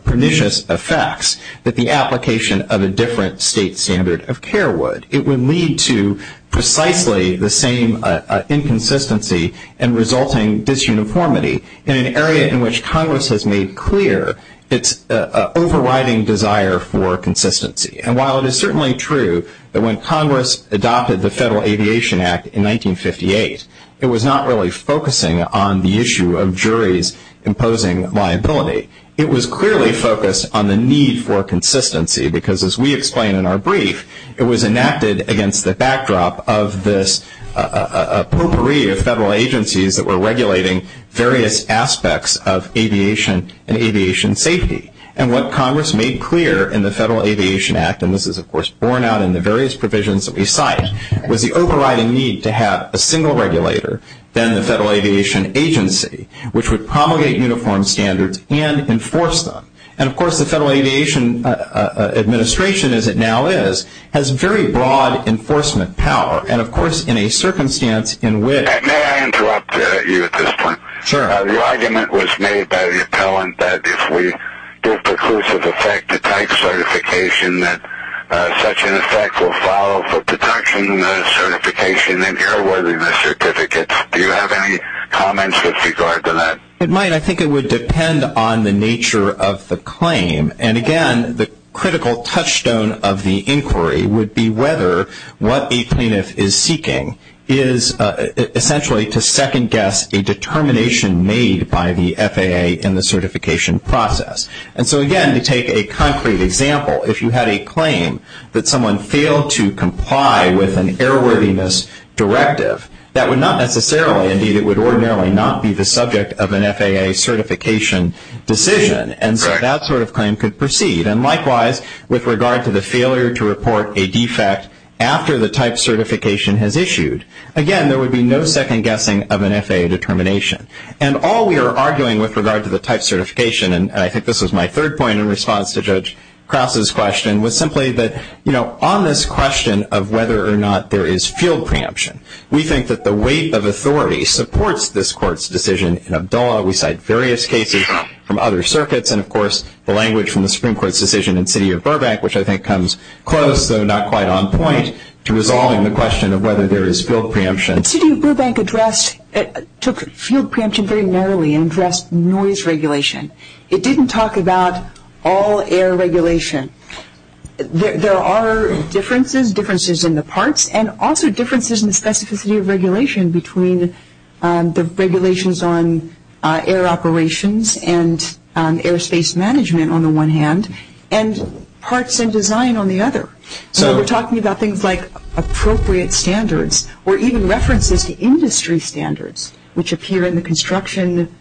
pernicious effects that the application of a different state standard of care would. It would lead to precisely the same inconsistency and resulting disuniformity in an area in which Congress has made clear its overriding desire for consistency. And while it is certainly true that when Congress adopted the Federal Aviation Act in 1958, it was not really focusing on the issue of juries imposing liability. It was clearly focused on the need for consistency because, as we explain in our brief, it was enacted against the backdrop of this potpourri of federal agencies that were regulating various aspects of aviation and aviation safety. And what Congress made clear in the Federal Aviation Act, and this is, of course, borne out in the various provisions that we cite, was the overriding need to have a single regulator, then the Federal Aviation Agency, which would promulgate uniform standards and enforce them. And, of course, the Federal Aviation Administration, as it now is, has very broad enforcement power. And, of course, in a circumstance in which- May I interrupt you at this point? Sure. Your argument was made by the appellant that if we give preclusive effect to tax certification, that such an effect will follow for protection certification and airworthiness certificates. Do you have any comments with regard to that? It might. I think it would depend on the nature of the claim. And, again, the critical touchstone of the inquiry would be whether what a plaintiff is seeking is, essentially, to second-guess a determination made by the FAA in the certification process. And so, again, to take a concrete example, if you had a claim that someone failed to comply with an airworthiness directive, that would not necessarily, indeed, it would ordinarily not be the subject of an FAA certification decision, and that sort of claim could proceed. And, likewise, with regard to the failure to report a defect after the type certification has issued, again, there would be no second-guessing of an FAA determination. And all we are arguing with regard to the type certification, and I think this was my third point in response to Judge Krause's question, was simply that on this question of whether or not there is field preemption, we think that the weight of authority supports this Court's decision in Abdullah. We cite various cases from other circuits, and, of course, the language from the Supreme Court's decision in City of Burbank, which I think comes close, though not quite on point, to resolving the question of whether there is field preemption. City of Burbank took field preemption very narrowly and addressed noise regulation. It didn't talk about all air regulation. There are differences, differences in the parts, and also differences in the specificity of regulation between the regulations on air operations and airspace management on the one hand, and parts and design on the other. So we're talking about things like appropriate standards or even references to industry standards, which appear in the construction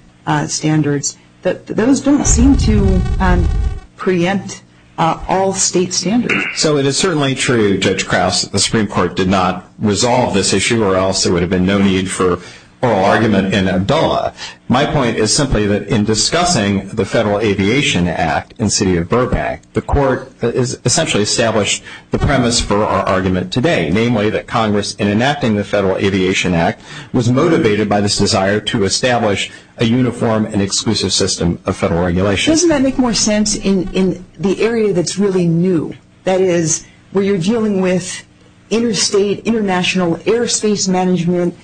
standards, but those don't seem to preempt all state standards. So it is certainly true, Judge Krause, that the Supreme Court did not resolve this issue or else there would have been no need for oral argument in Abdullah. My point is simply that in discussing the Federal Aviation Act in City of Burbank, the court essentially established the premise for our argument today, namely that Congress, in enacting the Federal Aviation Act, was motivated by this desire to establish a uniform and exclusive system of federal regulation. Doesn't that make more sense in the area that's really new, that is where you're dealing with interstate, international airspace management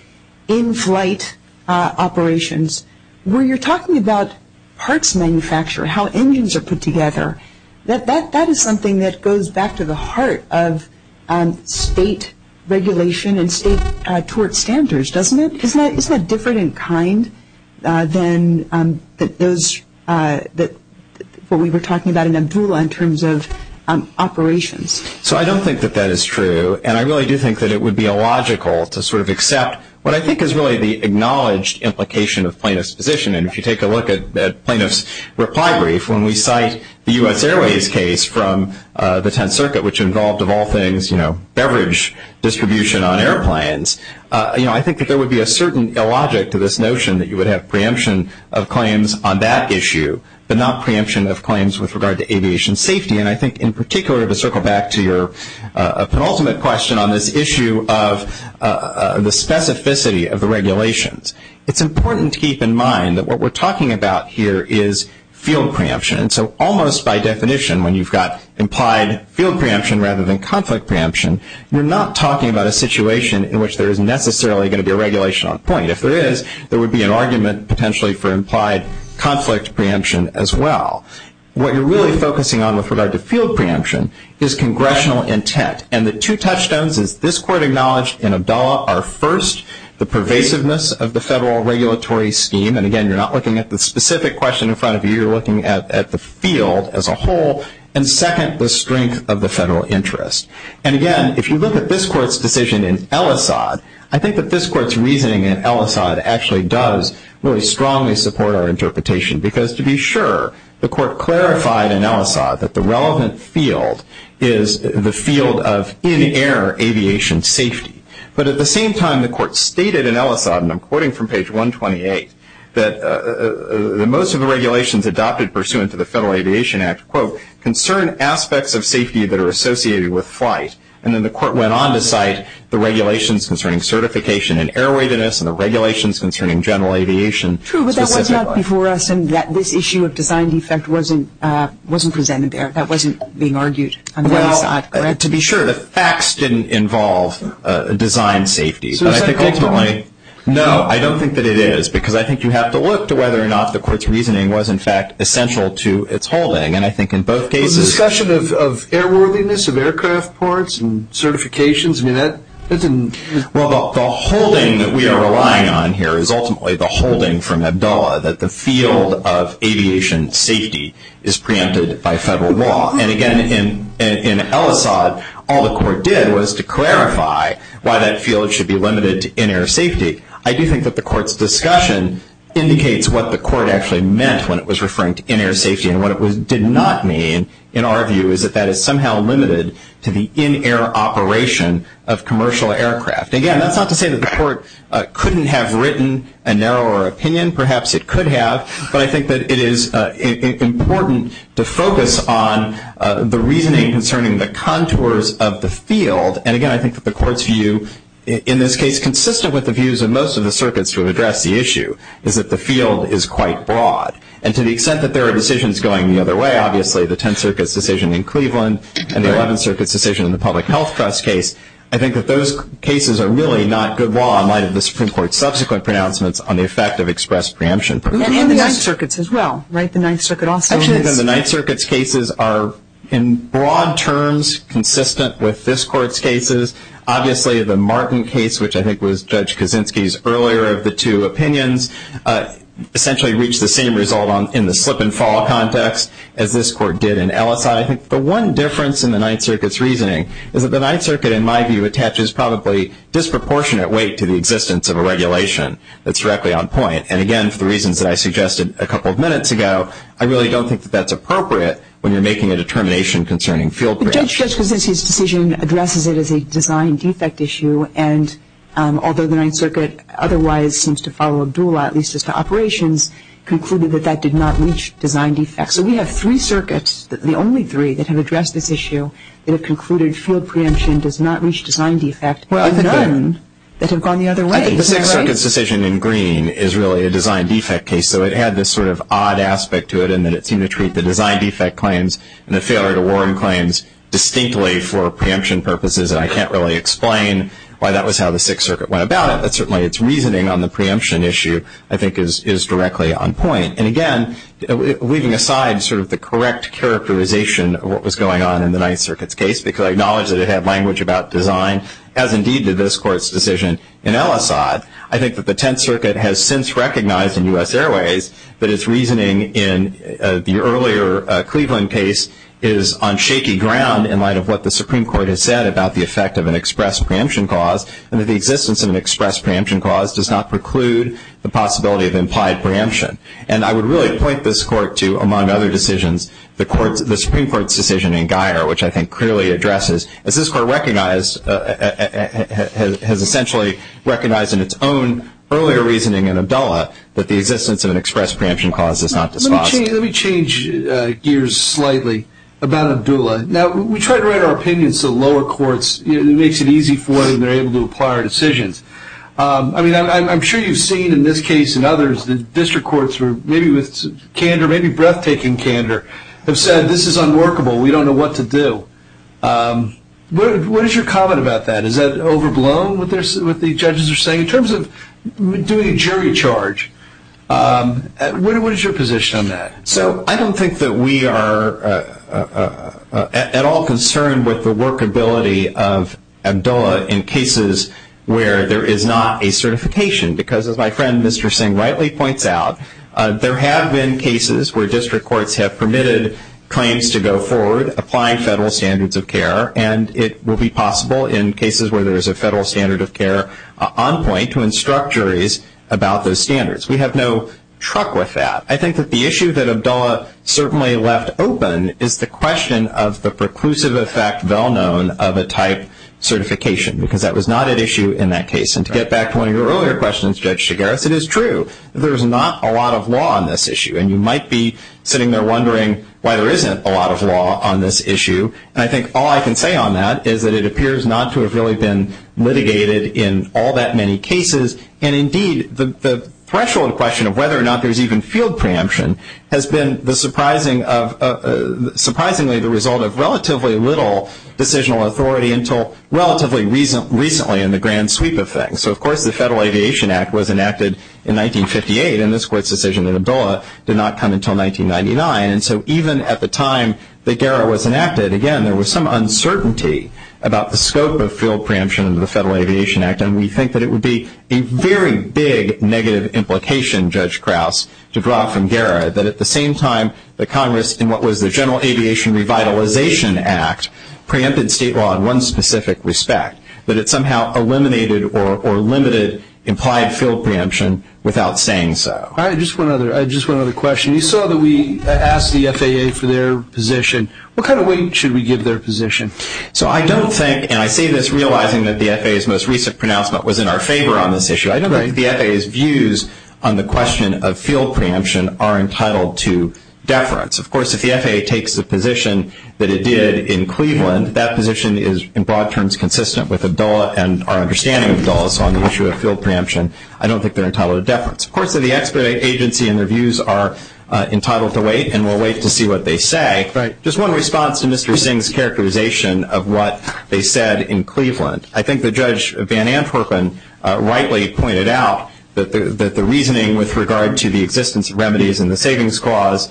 in-flight operations, where you're talking about parts manufacture, how engines are put together, that is something that goes back to the heart of state regulation and state tort standards, doesn't it? Isn't that different in kind than what we were talking about in Abdullah in terms of operations? So I don't think that that is true, and I really do think that it would be illogical to sort of accept what I think is really the acknowledged implication of plaintiff's position, and if you take a look at plaintiff's reply brief, when we cite the U.S. Airways case from the Tenth Circuit, which involved, of all things, beverage distribution on airplanes, I think that there would be a certain illogic to this notion that you would have preemption of claims on that issue, but not preemption of claims with regard to aviation safety, and I think in particular to circle back to your penultimate question on this issue of the specificity of the regulations. It's important to keep in mind that what we're talking about here is field preemption, and so almost by definition when you've got implied field preemption rather than conflict preemption, you're not talking about a situation in which there is necessarily going to be a regulation on point. If there is, there would be an argument potentially for implied conflict preemption as well. What you're really focusing on with regard to field preemption is congressional intent, and the two touchstones that this Court acknowledged in Abdallah are, first, the pervasiveness of the federal regulatory scheme, and again, you're not looking at the specific question in front of you. You're looking at the field as a whole, and second, the strength of the federal interest, and again, if you look at this Court's decision in Ellisad, I think that this Court's reasoning in Ellisad actually does really strongly support our interpretation because to be sure, the Court clarified in Ellisad that the relevant field is the field of in-air aviation safety, but at the same time the Court stated in Ellisad, and I'm quoting from page 128, that most of the regulations adopted pursuant to the Federal Aviation Act, quote, concern aspects of safety that are associated with flight, and then the Court went on to cite the regulations concerning certification in airweightedness and the regulations concerning general aviation. True, but that was not before us, and this issue of design defect wasn't presented there. That wasn't being argued to be sure. Well, the facts didn't involve design safety, and I think ultimately, no, I don't think that it is because I think you have to look to whether or not the Court's reasoning was, in fact, essential to its holding, and I think in both cases. The discussion of airworthiness of aircraft parts and certifications, I mean, that didn't. Well, the holding that we are relying on here is ultimately the holding from ABOA that the field of aviation safety is preempted by Federal law, and again, in Ellisad, all the Court did was to clarify why that field should be limited to in-air safety. I do think that the Court's discussion indicates what the Court actually meant when it was referring to in-air safety, and what it did not mean, in our view, is that that is somehow limited to the in-air operation of commercial aircraft. Again, that's not to say that the Court couldn't have written a narrower opinion. Perhaps it could have, but I think that it is important to focus on the reasoning concerning the contours of the field, and again, I think that the Court's view in this case, consistent with the views of most of the circuits who have addressed the issue, is that the field is quite broad, and to the extent that there are decisions going the other way, obviously the Tenth Circuit's decision in Cleveland and the Eleventh Circuit's decision in the Public Health Trust case, I think that those cases are really not good law in light of the Supreme Court's subsequent pronouncements on the effect of express preemption. And the Ninth Circuit's as well, right, the Ninth Circuit also. I think that the Ninth Circuit's cases are, in broad terms, consistent with this Court's cases. Obviously, the Martin case, which I think was Judge Kaczynski's earlier of the two opinions, essentially reached the same result in the flip-and-fall context as this Court did in Ellis. I think the one difference in the Ninth Circuit's reasoning is that the Ninth Circuit, in my view, attaches probably disproportionate weight to the existence of a regulation that's directly on point, and again, for the reasons that I suggested a couple of minutes ago, I really don't think that that's appropriate when you're making a determination concerning field preemption. The Judge Kaczynski's decision addresses it as a design defect issue, and although the Ninth Circuit otherwise seems to follow a dual law, at least as far as operations, concluded that that did not reach design defect. So we have three circuits, the only three, that have addressed this issue, that have concluded field preemption does not reach design defect, and none that have gone the other way. I think the Ninth Circuit's decision in Green is really a design defect case, so it had this sort of odd aspect to it in that it seemed to treat the design defect claims and the failure to warrant claims distinctly for preemption purposes, and I can't really explain why that was how the Sixth Circuit went about it, but certainly its reasoning on the preemption issue, I think, is directly on point. And again, weaving aside sort of the correct characterization of what was going on in the Ninth Circuit's case, because I acknowledge that it had language about design, as indeed did this Court's decision in Ellisod, I think that the Tenth Circuit has since recognized in U.S. Airways that its reasoning in the earlier Cleveland case is on shaky ground in light of what the Supreme Court has said about the effect of an express preemption clause, and that the existence of an express preemption clause does not preclude the possibility of implied preemption. And I would really point this Court to, among other decisions, the Supreme Court's decision in Geier, which I think clearly addresses that this Court has essentially recognized in its own earlier reasoning in Abdullah that the existence of an express preemption clause is not the spot. Let me change gears slightly about Abdullah. Now, we try to write our opinions to lower courts. It makes it easy for them. They're able to apply our decisions. I mean, I'm sure you've seen in this case and others that district courts were maybe with candor, maybe breathtaking candor, have said this is unworkable. We don't know what to do. What is your comment about that? Is that overblown with what the judges are saying in terms of doing a jury charge? What is your position on that? So I don't think that we are at all concerned with the workability of Abdullah in cases where there is not a certification, because as my friend Mr. Singh rightly points out, there have been cases where district courts have permitted claims to go forward, apply federal standards of care, and it will be possible in cases where there is a federal standard of care on point to instruct juries about those standards. We have no truck with that. I think that the issue that Abdullah certainly left open is the question of the preclusive effect, well known, of a type certification, because that was not at issue in that case. And to get back to one of your earlier questions, Judge Shigaris, it is true. There's not a lot of law on this issue, and you might be sitting there wondering why there isn't a lot of law on this issue, and I think all I can say on that is that it appears not to have really been litigated in all that many cases, and indeed the threshold question of whether or not there's even field preemption has been surprisingly the result of relatively little decisional authority until relatively recently in the grand sweep of things. So, of course, the Federal Aviation Act was enacted in 1958, and this court's decision in Abdullah did not come until 1999, and so even at the time that GARA was enacted, again, there was some uncertainty about the scope of field preemption under the Federal Aviation Act, and we think that it would be a very big negative implication, Judge Krauss, to draw from GARA, that at the same time that Congress, in what was the General Aviation Revitalization Act, preempted state law in one specific respect, that it somehow eliminated or limited implied field preemption without saying so. All right, just one other question. You saw that we asked the FAA for their position. What kind of weight should we give their position? So I don't think, and I say this realizing that the FAA's most recent pronouncement was in our favor on this issue, I don't think the FAA's views on the question of field preemption are entitled to deference. Of course, if the FAA takes the position that it did in Cleveland, that position is in broad terms consistent with Abdullah and our understanding of Abdullah's on the issue of field preemption. I don't think they're entitled to deference. Of course, the expedited agency and their views are entitled to wait, and we'll wait to see what they say. Just one response to Mr. Singh's characterization of what they said in Cleveland. I think that Judge Van Antwerpen rightly pointed out that the reasoning with regard to the existence of remedies and the savings clause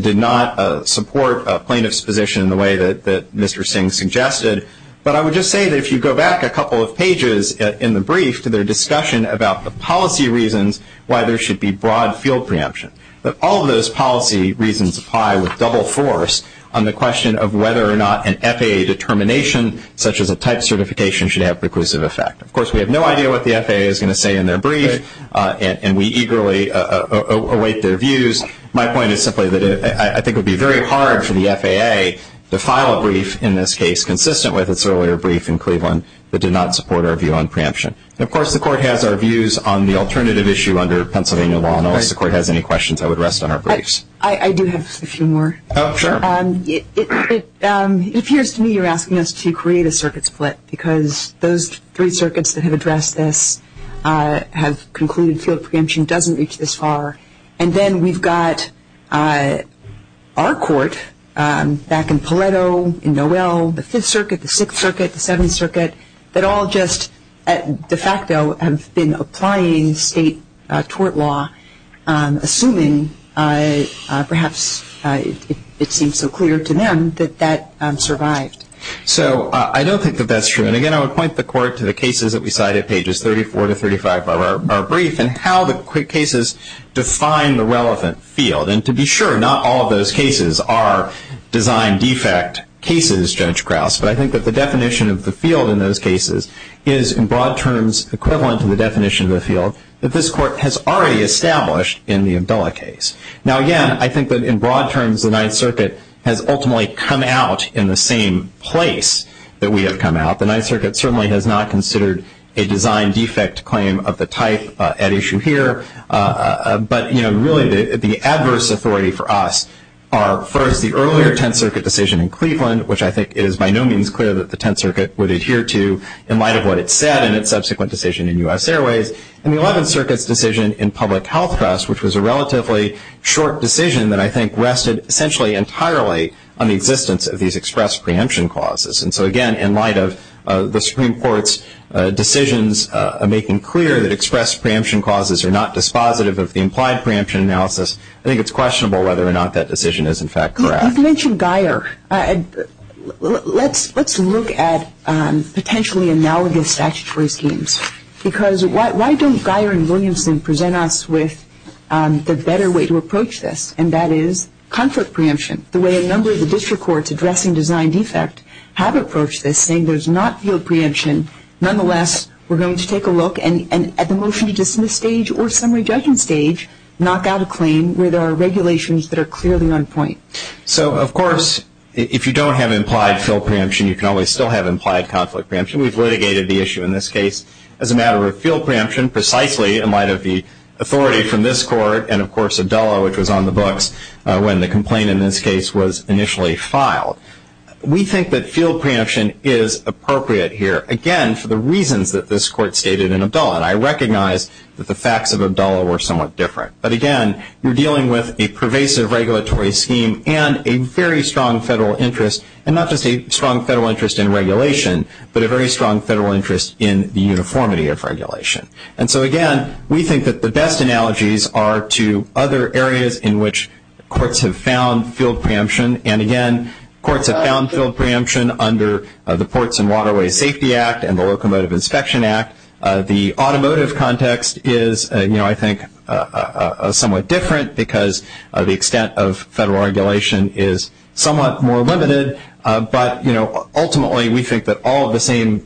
did not support plaintiff's position in the way that Mr. Singh suggested. But I would just say that if you go back a couple of pages in the brief to their discussion about the policy reasons why there should be broad field preemption, that all of those policy reasons apply with double force on the question of whether or not an FAA determination such as a type certification should have preclusive effect. Of course, we have no idea what the FAA is going to say in their brief, and we eagerly await their views. My point is simply that I think it would be very hard for the FAA to file a brief, in this case, consistent with its earlier brief in Cleveland that did not support our view on preemption. Of course, the Court has our views on the alternative issue under Pennsylvania law, and unless the Court has any questions, I would rest on our briefs. I do have a few more. Oh, sure. If you're asking us to create a circuit split because those three circuits that have addressed this have concluded field preemption doesn't reach this far, and then we've got our court back in Paleto, in Norell, the Fifth Circuit, the Sixth Circuit, the Seventh Circuit, that all just de facto have been applying state tort law, assuming perhaps it seems so clear to them that that survived. So I don't think that that's true. And, again, I would point the Court to the cases that we cited, pages 34 to 35 of our brief, and how the cases define the relevant field. And to be sure, not all of those cases are design defect cases, Judge Krauss, but I think that the definition of the field in those cases is, in broad terms, equivalent to the definition of the field that this Court has already established in the Abdullah case. Now, again, I think that, in broad terms, the Ninth Circuit has ultimately come out in the same place that we have come out. The Ninth Circuit certainly has not considered a design defect claim of the type at issue here. But, you know, really the adverse authority for us are, first, the earlier Tenth Circuit decision in Cleveland, which I think is by no means clear that the Tenth Circuit would adhere to in light of what it said in its subsequent decision in U.S. Airways, and the Eleventh Circuit's decision in Public Health Trust, which was a relatively short decision that I think rested essentially entirely on the existence of these express preemption clauses. And so, again, in light of the Supreme Court's decisions making clear that express preemption clauses are not dispositive of the implied preemption analysis, I think it's questionable whether or not that decision is, in fact, correct. You mentioned Geier. Let's look at potentially analogous statutory themes, because why don't Geier and Williamson present us with a better way to approach this, and that is comfort preemption. The way a number of the district courts addressing design defect have approached this, saying there's not field preemption. Nonetheless, we're going to take a look, and at the motion to dismiss stage or summary judgment stage, knock out a claim where there are regulations that are clearly on point. So, of course, if you don't have implied field preemption, you can always still have implied conflict preemption. We've litigated the issue in this case as a matter of field preemption, precisely in light of the authority from this court, and, of course, Abdullah, which was on the books when the complaint in this case was initially filed. We think that field preemption is appropriate here, again, for the reasons that this court stated in Abdullah, and I recognize that the facts of Abdullah were somewhat different. But, again, you're dealing with a pervasive regulatory scheme and a very strong federal interest, and not just a strong federal interest in regulation, but a very strong federal interest in the uniformity of regulation. And so, again, we think that the best analogies are to other areas in which courts have found field preemption, and, again, courts have found field preemption under the Ports and Waterways Safety Act and the Locomotive Inspection Act. The automotive context is, you know, I think, somewhat different because the extent of federal regulation is somewhat more limited. But, you know, ultimately, we think that all of the same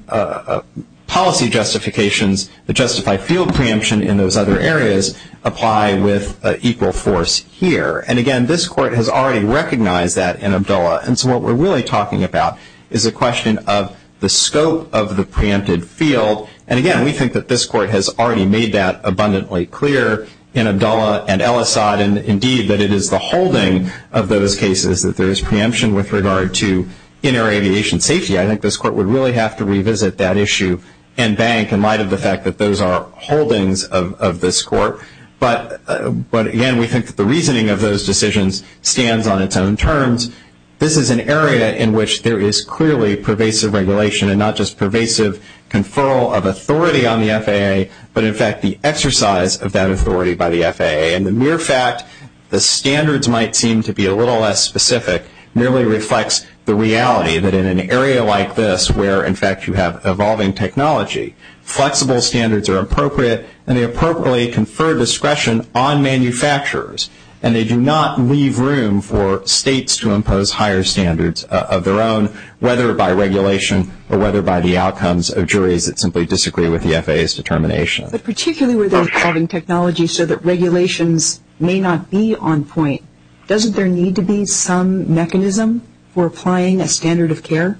policy justifications that justify field preemption in those other areas apply with equal force here. And, again, this court has already recognized that in Abdullah, and so what we're really talking about is a question of the scope of the preempted field. And, again, we think that this court has already made that abundantly clear in Abdullah and El-Assad, and, indeed, that it is the holding of those cases that there is preemption with regard to inter-aviation safety. I think this court would really have to revisit that issue and bank in light of the fact that those are holdings of this court. But, again, we think that the reasoning of those decisions stands on its own terms. This is an area in which there is clearly pervasive regulation and not just pervasive conferral of authority on the FAA, but, in fact, the exercise of that authority by the FAA. And the mere fact the standards might seem to be a little less specific nearly reflects the reality that in an area like this where, in fact, you have evolving technology, flexible standards are appropriate and they appropriately confer discretion on manufacturers, and they do not leave room for states to impose higher standards of their own, whether by regulation or whether by the outcomes of juries that simply disagree with the FAA's determination. But particularly with evolving technology so that regulations may not be on point, doesn't there need to be some mechanism for applying a standard of care?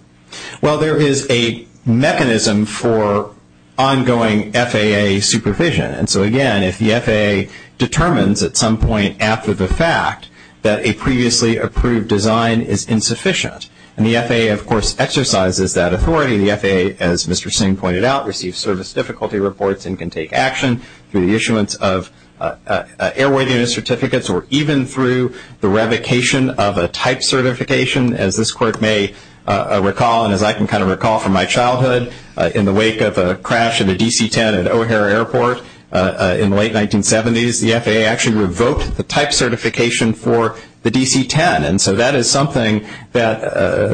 Well, there is a mechanism for ongoing FAA supervision. And so, again, if the FAA determines at some point after the fact that a previously approved design is insufficient, and the FAA, of course, exercises that authority, the FAA, as Mr. Singh pointed out, receives service difficulty reports and can take action through the issuance of airworthiness certificates or even through the revocation of a type certification. As this Court may recall, and as I can kind of recall from my childhood, in the wake of a crash of a DC-10 at O'Hare Airport in the late 1970s, the FAA actually revoked the type certification for the DC-10. And so that is something that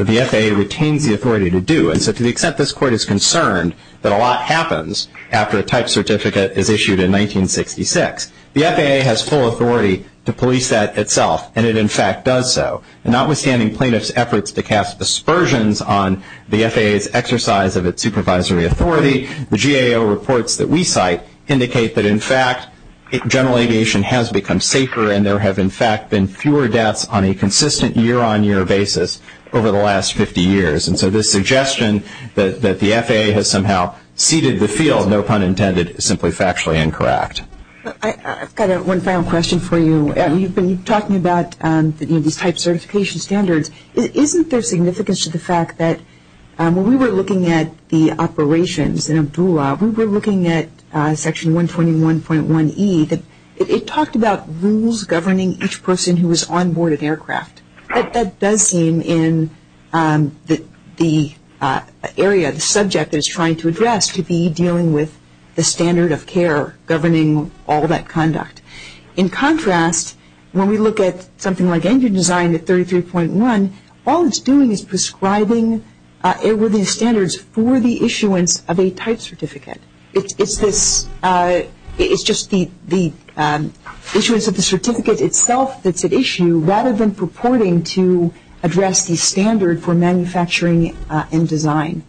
the FAA retains the authority to do. And so to the extent this Court is concerned that a lot happens after a type certificate is issued in 1966, the FAA has full authority to police that itself, and it, in fact, does so. Notwithstanding plaintiff's efforts to cast aspersions on the FAA's exercise of its supervisory authority, the GAO reports that we cite indicate that, in fact, general aviation has become safer and there have, in fact, been fewer deaths on a consistent year-on-year basis over the last 50 years. And so this suggestion that the FAA has somehow ceded the field, no pun intended, is simply factually incorrect. I've got one final question for you. You've been talking about the type certification standards. Isn't there significance to the fact that when we were looking at the operations in ABOA, when we were looking at Section 121.1E, it talked about rules governing each person who was onboard an aircraft. That does seem in the area the subject is trying to address to be dealing with the standard of care governing all that conduct. In contrast, when we look at something like engine design at 33.1, all it's doing is prescribing airworthy standards for the issuance of a type certificate. It's just the issuance of the certificate itself that's at issue, rather than purporting to address the standard for manufacturing and design.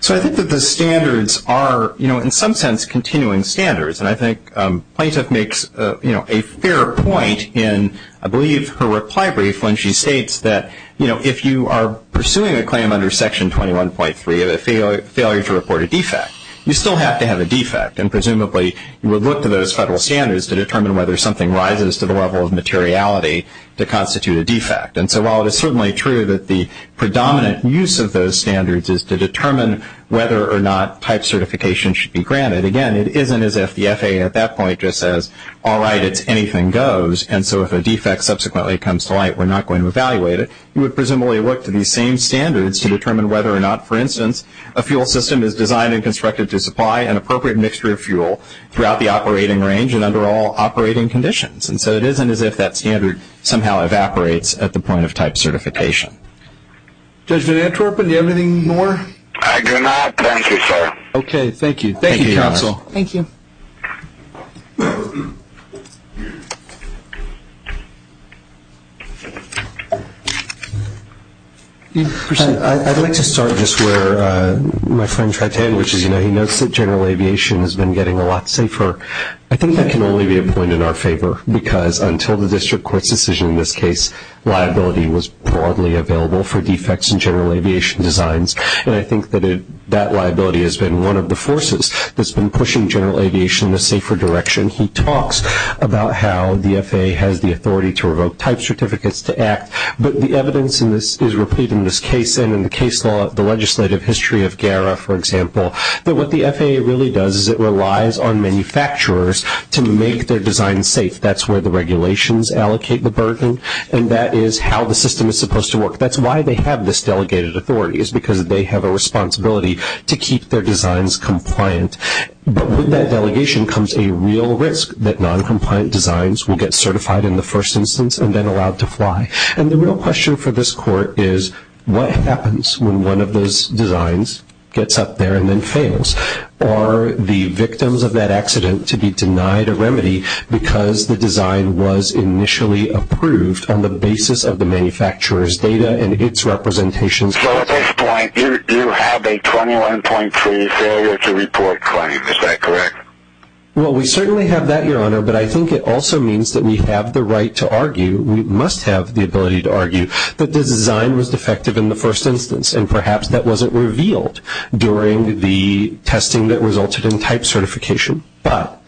So I think that the standards are, you know, in some sense continuing standards, and I think Plaintiff makes a fair point in, I believe, her reply brief when she states that, you know, pursuing a claim under Section 21.3 of a failure to report a defect, you still have to have a defect, and presumably you would look to those federal standards to determine whether something rises to the level of materiality to constitute a defect. And so while it is certainly true that the predominant use of those standards is to determine whether or not type certification should be granted, again, it isn't as if the FAA at that point just says, all right, anything goes. And so if a defect subsequently comes to light, we're not going to evaluate it. We would presumably look to these same standards to determine whether or not, for instance, a fuel system is designed and constructed to supply an appropriate mixture of fuel throughout the operating range and under all operating conditions. And so it isn't as if that standard somehow evaporates at the point of type certification. Judge, did I interrupt? Do you have anything more? I do not. Thank you, sir. Okay, thank you. Thank you, Counsel. Thank you. Bruce? I'd like to start just where my friend's right hand, which is, you know, he knows that general aviation has been getting a lot safer. I think that can only be a point in our favor because until the district court's decision in this case, liability was broadly available for defects in general aviation designs, and I think that that liability has been one of the forces that's been pushing general aviation in a safer direction. He talks about how the FAA has the authority to revoke type certificates to act, but the evidence in this is repeated in this case and in the case law, the legislative history of GARA, for example, that what the FAA really does is it relies on manufacturers to make their design safe. That's where the regulations allocate the burden, and that is how the system is supposed to work. That's why they have this delegated authority, is because they have a responsibility to keep their designs compliant. But with that delegation comes a real risk that noncompliant designs will get certified in the first instance and then allowed to fly, and the real question for this court is, what happens when one of those designs gets up there and then fails? Are the victims of that accident to be denied a remedy because the design was initially approved on the basis of the manufacturer's data and its representation? So at this point, you have a 21.3 failure to report claim. Is that correct? Well, we certainly have that, Your Honor, but I think it also means that we have the right to argue, we must have the ability to argue, that the design was defective in the first instance, and perhaps that wasn't revealed during the testing that resulted in type certification. But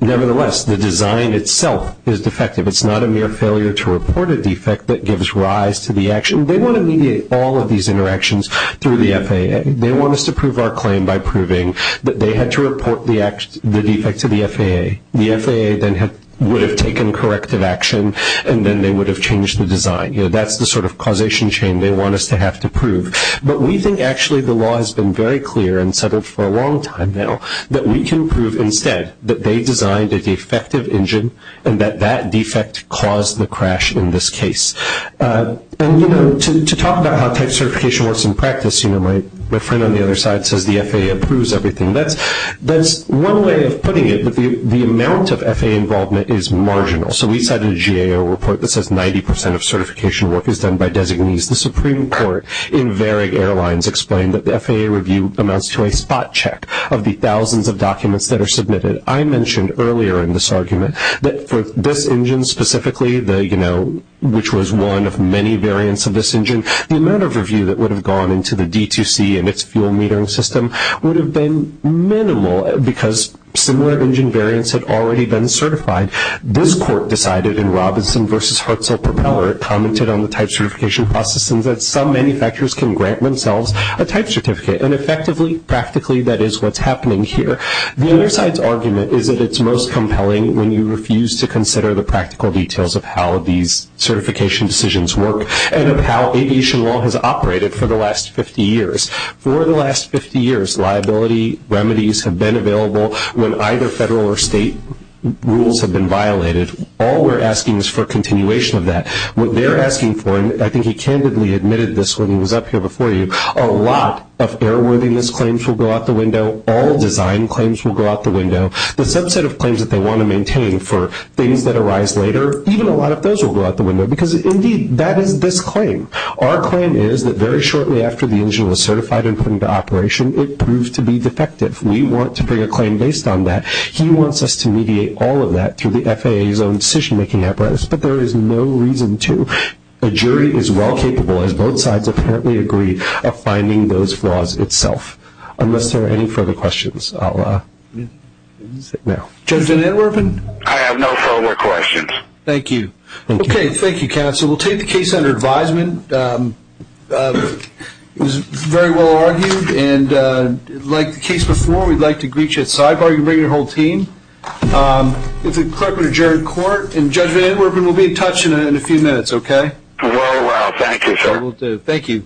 nevertheless, the design itself is defective. It's not a mere failure to report a defect that gives rise to the action. They want to mediate all of these interactions through the FAA. They want us to prove our claim by proving that they had to report the defect to the FAA. The FAA then would have taken corrective action, and then they would have changed the design. That's the sort of causation chain they want us to have to prove. But we think actually the law has been very clear and set up for a long time now that we can prove instead that they designed a defective engine and that that defect caused the crash in this case. And, you know, to talk about how type certification works in practice, you know, my friend on the other side says the FAA approves everything. That's one way of putting it, but the amount of FAA involvement is marginal. So we sent a GAO report that says 90% of certification work is done by designees. The Supreme Court in Varig Airlines explained that the FAA review amounts to a spot check of the thousands of documents that are submitted. I mentioned earlier in this argument that for this engine specifically, you know, which was one of many variants of this engine, the amount of review that would have gone into the D2C and its fuel metering system would have been minimal because similar engine variants had already been certified. This court decided in Robinson v. Hertzler Propeller, commented on the type certification process, and that some manufacturers can grant themselves a type certificate. And effectively, practically, that is what's happening here. The other side's argument is that it's most compelling when you refuse to consider the practical details of how these certification decisions work and of how aviation law has operated for the last 50 years. For the last 50 years, liability remedies have been available when either federal or state rules have been violated. All we're asking is for a continuation of that. What they're asking for, and I think he candidly admitted this when he was up here before you, a lot of airworming-ness claims will go out the window. All design claims will go out the window. The subset of claims that they want to maintain for things that arise later, even a lot of those will go out the window because, indeed, that is this claim. Our claim is that very shortly after the engine was certified and put into operation, it proves to be defective. We want to bring a claim based on that. He wants us to mediate all of that through the FAA's own decision-making apparatus, but there is no reason to. The jury is well capable, as both sides apparently agree, of finding those flaws itself. Unless there are any further questions, I'll let you sit now. Judge Van Anwerpen? I have no further questions. Thank you. Okay, thank you, counsel. We'll take the case under advisement. It was very well argued, and like the case before, we'd like to greet you outside while you bring your whole team. This is Clerk of the Jury Court, and Judge Van Anwerpen will be in touch in a few minutes, okay? Well, thank you, sir. Thank you.